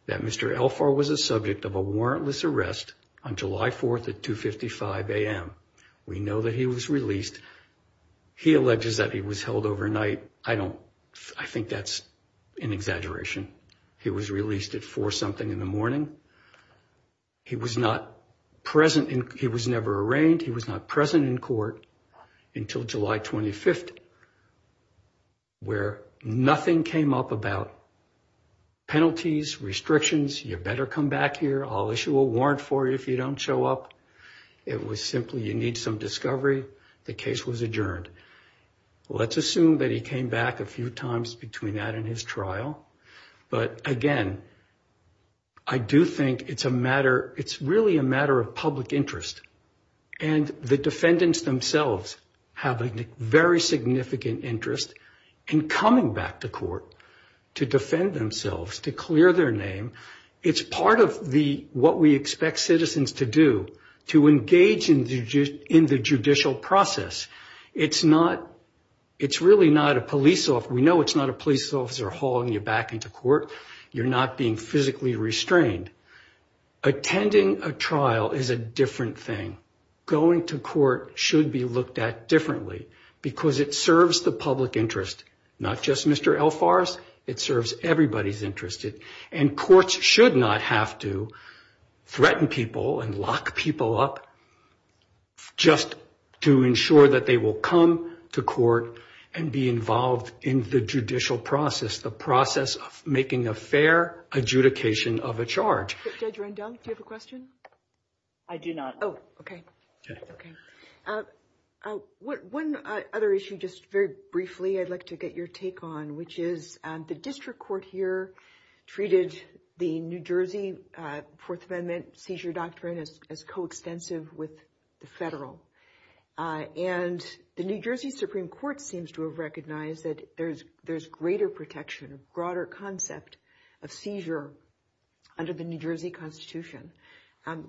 that Mr. Elphar was a subject of a warrantless arrest on July 4th at 2.55 a.m. We know that he was released. He alleges that he was held overnight. I don't, I think that's an exaggeration. He was released at 4 something in the morning. He was not present, he was never arraigned. He was not present in court until July 25th where nothing came up about penalties, restrictions, you better come back here, I'll issue a warrant for you if you don't show up. It was simply you need some discovery. The case was adjourned. Let's assume that he came back a few times between that and his trial. But again, I do think it's a matter, it's really a matter of public interest. And the defendants themselves have a very significant interest in coming back to court to defend themselves, to clear their name. It's part of what we expect citizens to do, to engage in the judicial process. It's not, it's really not a police officer, we know it's not a police officer hauling you back into court, you're not being physically restrained. Attending a trial is a different thing. Going to court should be looked at differently because it serves the public interest, not just Mr. Alfarez, it serves everybody's interest. And courts should not have to threaten people and lock people up just to ensure that they will come to court and be involved in the judicial process, the process of making a fair adjudication of a charge. Judge Rendon, do you have a question? I do not. Oh, okay. One other issue, just very briefly, I'd like to get your take on, which is the district court here treated the New Jersey Fourth Amendment seizure doctrine as coextensive with the federal. And the New Jersey Supreme Court seems to have recognized that there's greater protection, broader concept of seizure under the New Jersey Constitution.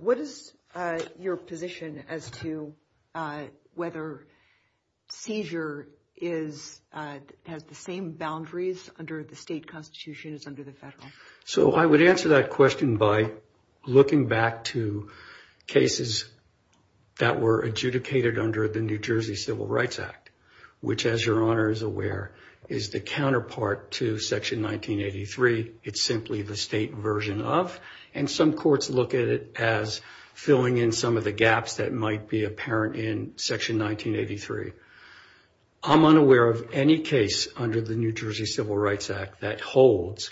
What is your position as to whether seizure is, has the same boundaries under the state constitution as under the federal? So I would answer that question by looking back to cases that were adjudicated under the New Jersey Civil Rights Act, which, as your Honor is aware, is the counterpart to Section 1983. It's simply the state version of, and some courts look at it as filling in some of the gaps that might be apparent in Section 1983. I'm unaware of any case under the New Jersey Civil Rights Act that holds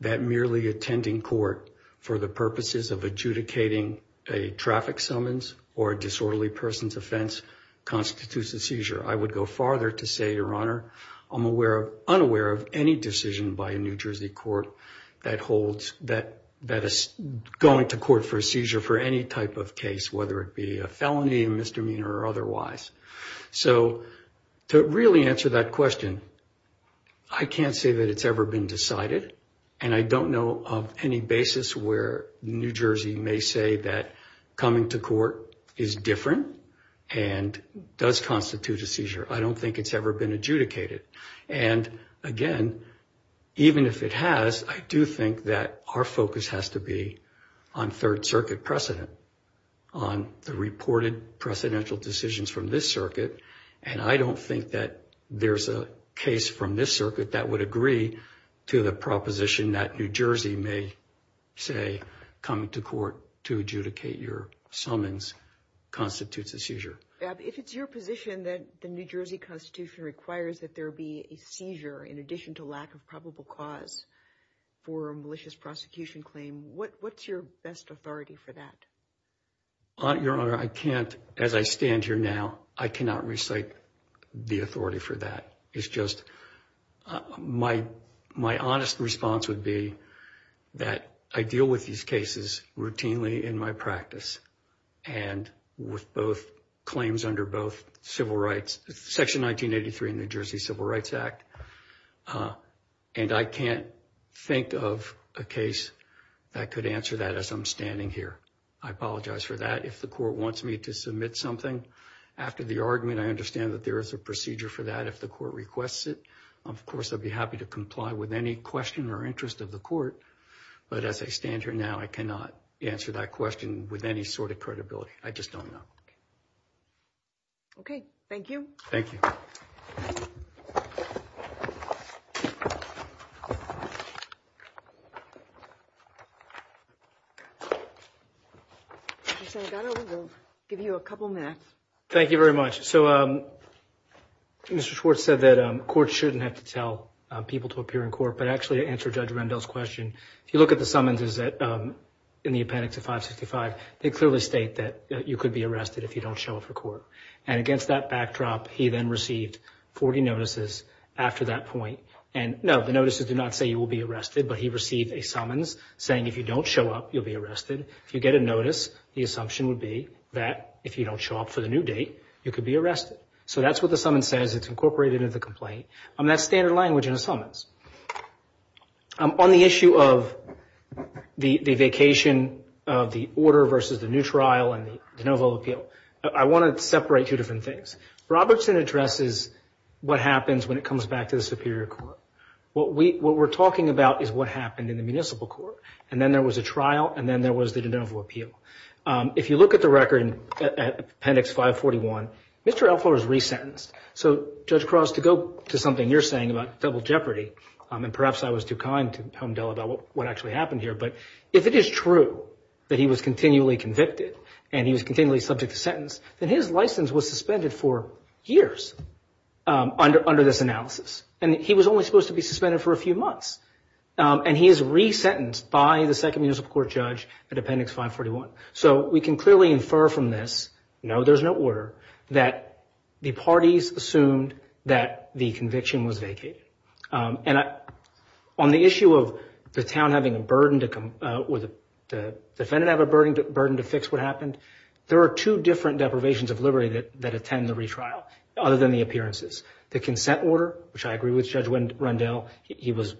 that merely attending court for the purposes of adjudicating a traffic summons or a disorderly person's offense constitutes a seizure. I would go farther to say, your Honor, I'm unaware of any decision by a New Jersey court that holds that going to court for a seizure for any type of case, whether it be a felony, misdemeanor, or otherwise. So to really answer that question, I can't say that it's ever been decided. And I don't know of any basis where New Jersey may say that coming to court is different and does constitute a seizure. I don't think it's ever been adjudicated. And again, even if it has, I do think that our focus has to be on Third Circuit precedent, on the reported precedential decisions from this circuit. And I don't think that there's a case from this circuit that would agree to the proposition that New Jersey may say coming to court to adjudicate your summons constitutes a seizure. If it's your position that the New Jersey Constitution requires that there be a seizure in addition to lack of probable cause for a malicious prosecution claim, what's your best authority for that? Your Honor, I can't, as I stand here now, I cannot recite the authority for that. It's just my honest response would be that I deal with these cases routinely in my practice and with both claims under both Civil Rights, Section 1983 in the New Jersey Civil Rights Act. And I can't think of a case that could answer that as I'm standing here. I apologize for that. If the court wants me to submit something after the argument, I understand that there is a procedure for that. If the court requests it, of course, I'd be happy to comply with any question or interest of the court. But as I stand here now, I cannot answer that question with any sort of credibility. I just don't know. Okay. Thank you. Thank you. I'll give you a couple minutes. Thank you very much. So Mr. Schwartz said that courts shouldn't have to tell people to appear in court. But actually, to answer Judge Rendell's question, if you look at the summonses in the appendix of 565, they clearly state that you could be arrested if you don't show up for court. And against that backdrop, he then received 40 notices after that point. And no, the notices did not say you will be arrested, but he received a summons saying if you don't show up, you'll be arrested. If you get a notice, the assumption would be that if you don't show up for the new date, you could be arrested. So that's what the summons says. It's incorporated into the complaint. And that's standard language in the summons. On the issue of the vacation of the order versus the new trial and the de novo appeal, I want to separate two different things. Robertson addresses what happens when it comes back to the superior court. What we're talking about is what happened in the municipal court. And then there was a trial, and then there was the de novo appeal. If you look at the record at Appendix 541, Mr. Alford was resentenced. So, Judge Cross, to go to something you're saying about federal jeopardy, and perhaps I was too kind to humble about what actually happened here, but if it is true that he was continually convicted and he was continually subject to sentence, then his license was suspended for years under this analysis. And he was only supposed to be suspended for a few months. And he is resentenced by the second municipal court judge at Appendix 541. So we can clearly infer from this, no, there's no order, that the parties assumed that the conviction was vacated. And on the issue of the town having a burden, would the defendant have a burden to fix what happened? There are two different deprivations of liberty that attend the retrial, other than the appearances. The consent order, which I agree with Judge Rendell, he was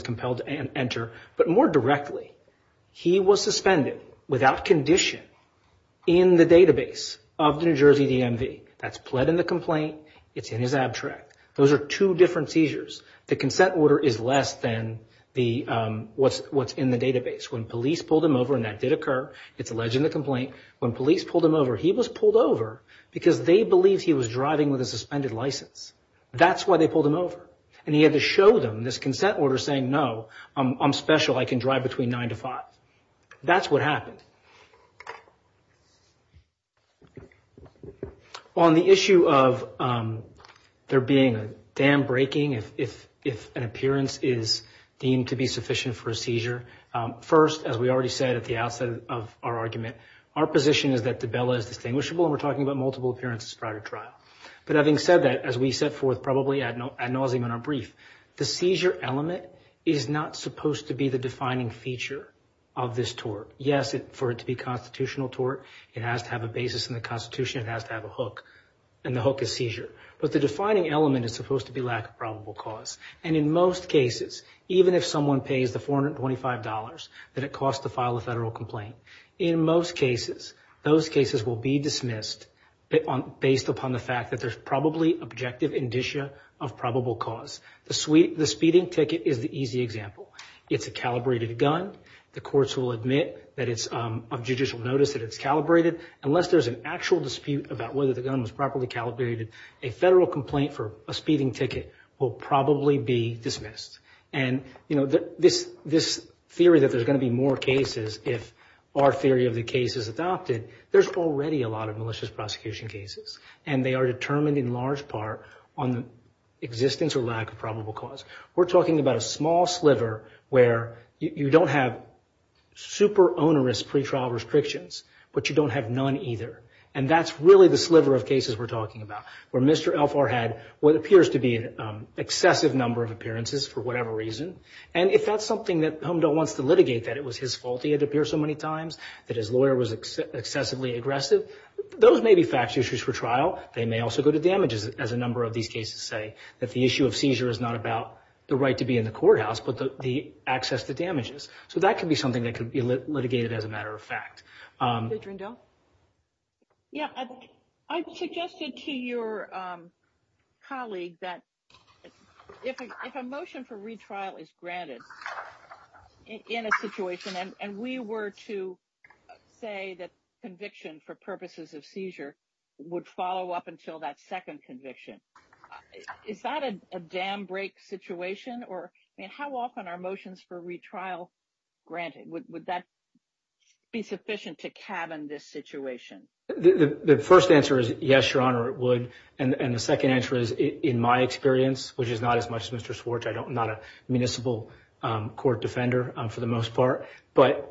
compelled to enter, but more directly, he was suspended without condition in the database of the New Jersey DMV. That's pled in the complaint, it's in his abstract. Those are two different seizures. The consent order is less than what's in the database. When police pulled him over, and that did occur, it's alleged in the complaint, when police pulled him over, he was pulled over because they believed he was driving with a suspended license. That's why they pulled him over. And he had to show them this consent order saying, no, I'm special, I can drive between 9 to 5. That's what happened. On the issue of there being a dam breaking if an appearance is deemed to be sufficient for a seizure, first, as we already said at the outset of our argument, our position is that the bill is distinguishable, and we're talking about multiple appearances prior to trial. But having said that, as we set forth probably ad nauseum in our brief, the seizure element is not supposed to be the defining feature of this tort. Yes, for it to be constitutional tort, it has to have a basis in the Constitution, it has to have a hook, and the hook is seizure. But the defining element is supposed to be lack of probable cause. And in most cases, even if someone pays the $425 that it costs to file a federal complaint, in most cases, those cases will be dismissed based upon the fact that there's probably objective indicia of probable cause. The speeding ticket is the easy example. It's a calibrated gun. The courts will admit that it's of judicial notice that it's calibrated. Unless there's an actual dispute about whether the gun was properly calibrated, a federal complaint for a speeding ticket will probably be dismissed. And this theory that there's going to be more cases if our theory of the case is adopted, there's already a lot of malicious prosecution cases. And they are determined in large part on the existence or lack of probable cause. We're talking about a small sliver where you don't have super onerous pretrial restrictions, but you don't have none either. And that's really the sliver of cases we're talking about, where Mr. Elfar had what appears to be an excessive number of appearances for whatever reason. And if that's something that Heimdall wants to litigate, that it was his fault he had to appear so many times, that his lawyer was excessively aggressive, those may be factual issues for trial. They may also go to damages, as a number of these cases say, that the issue of seizure is not about the right to be in the courthouse but the access to damages. So that could be something that could be litigated as a matter of fact. Adrienne Dell? Yeah, I suggested to your colleague that if a motion for retrial is granted in a situation, and we were to say that conviction for purposes of seizure would follow up until that second conviction, is that a dam break situation? How often are motions for retrial granted? Would that be sufficient to cabin this situation? The first answer is yes, Your Honor, it would. And the second answer is, in my experience, which is not as much as Mr. Schwartz, I'm not a municipal court defender for the most part, but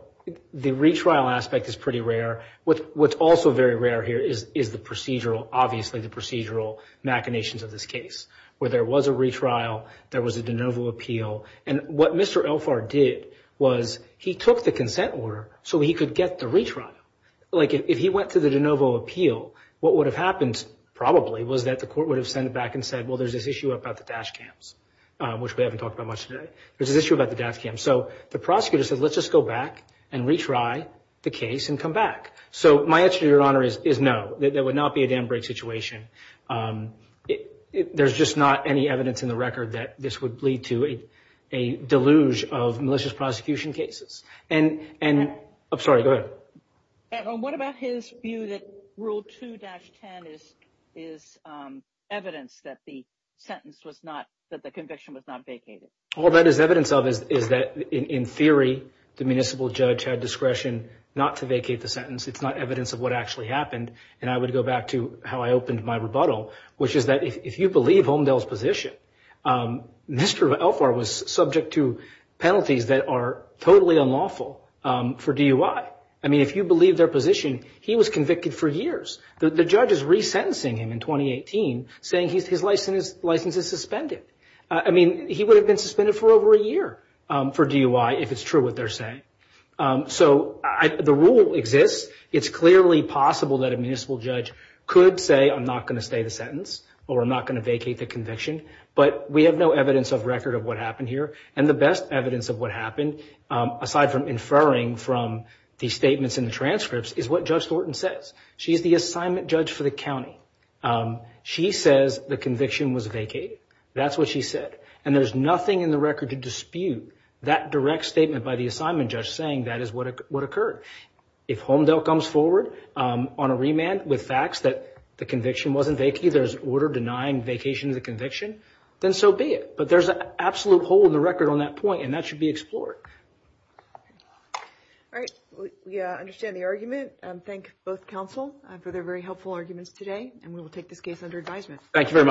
the retrial aspect is pretty rare. What's also very rare here is the procedural, obviously the procedural machinations of this case, where there was a retrial, there was a de novo appeal, and what Mr. Elfar did was he took the consent order so he could get the retrial. Like, if he went to the de novo appeal, what would have happened probably was that the court would have sent it back and said, well, there's this issue about the dash cams, which we haven't talked about much today. There's an issue about the dash cams. So the prosecutor said, let's just go back and retry the case and come back. So my answer to Your Honor is no, there would not be a dam break situation. There's just not any evidence in the record that this would lead to a deluge of malicious prosecution cases. And I'm sorry, go ahead. What about his view that Rule 2-10 is evidence that the sentence was not, that the conviction was not vacated? All that is evidence of is that, in theory, the municipal judge had discretion not to vacate the sentence. It's not evidence of what actually happened. And I would go back to how I opened my rebuttal, which is that if you believe Holmdel's position, Nesterov-Elfar was subject to penalties that are totally unlawful for DUI. I mean, if you believe their position, he was convicted for years. The judge is resentencing him in 2018, saying his license is suspended. I mean, he would have been suspended for over a year for DUI if it's true what they're saying. So the rule exists. It's clearly possible that a municipal judge could say, I'm not going to stay the sentence or I'm not going to vacate the conviction, but we have no evidence of record of what happened here. And the best evidence of what happened, aside from inferring from the statements in the transcripts, is what Judge Thornton says. She is the assignment judge for the county. She says the conviction was vacated. That's what she said. And there's nothing in the record to dispute that direct statement by the assignment judge saying that is what occurred. If Holmdel comes forward on a remand with facts that the conviction wasn't then so be it. But there's an absolute hole in the record on that point, and that should be explored. All right. Yeah, I understand the argument. I thank both counsel for their very helpful arguments today, and we will take this case under advisement. Thank you very much.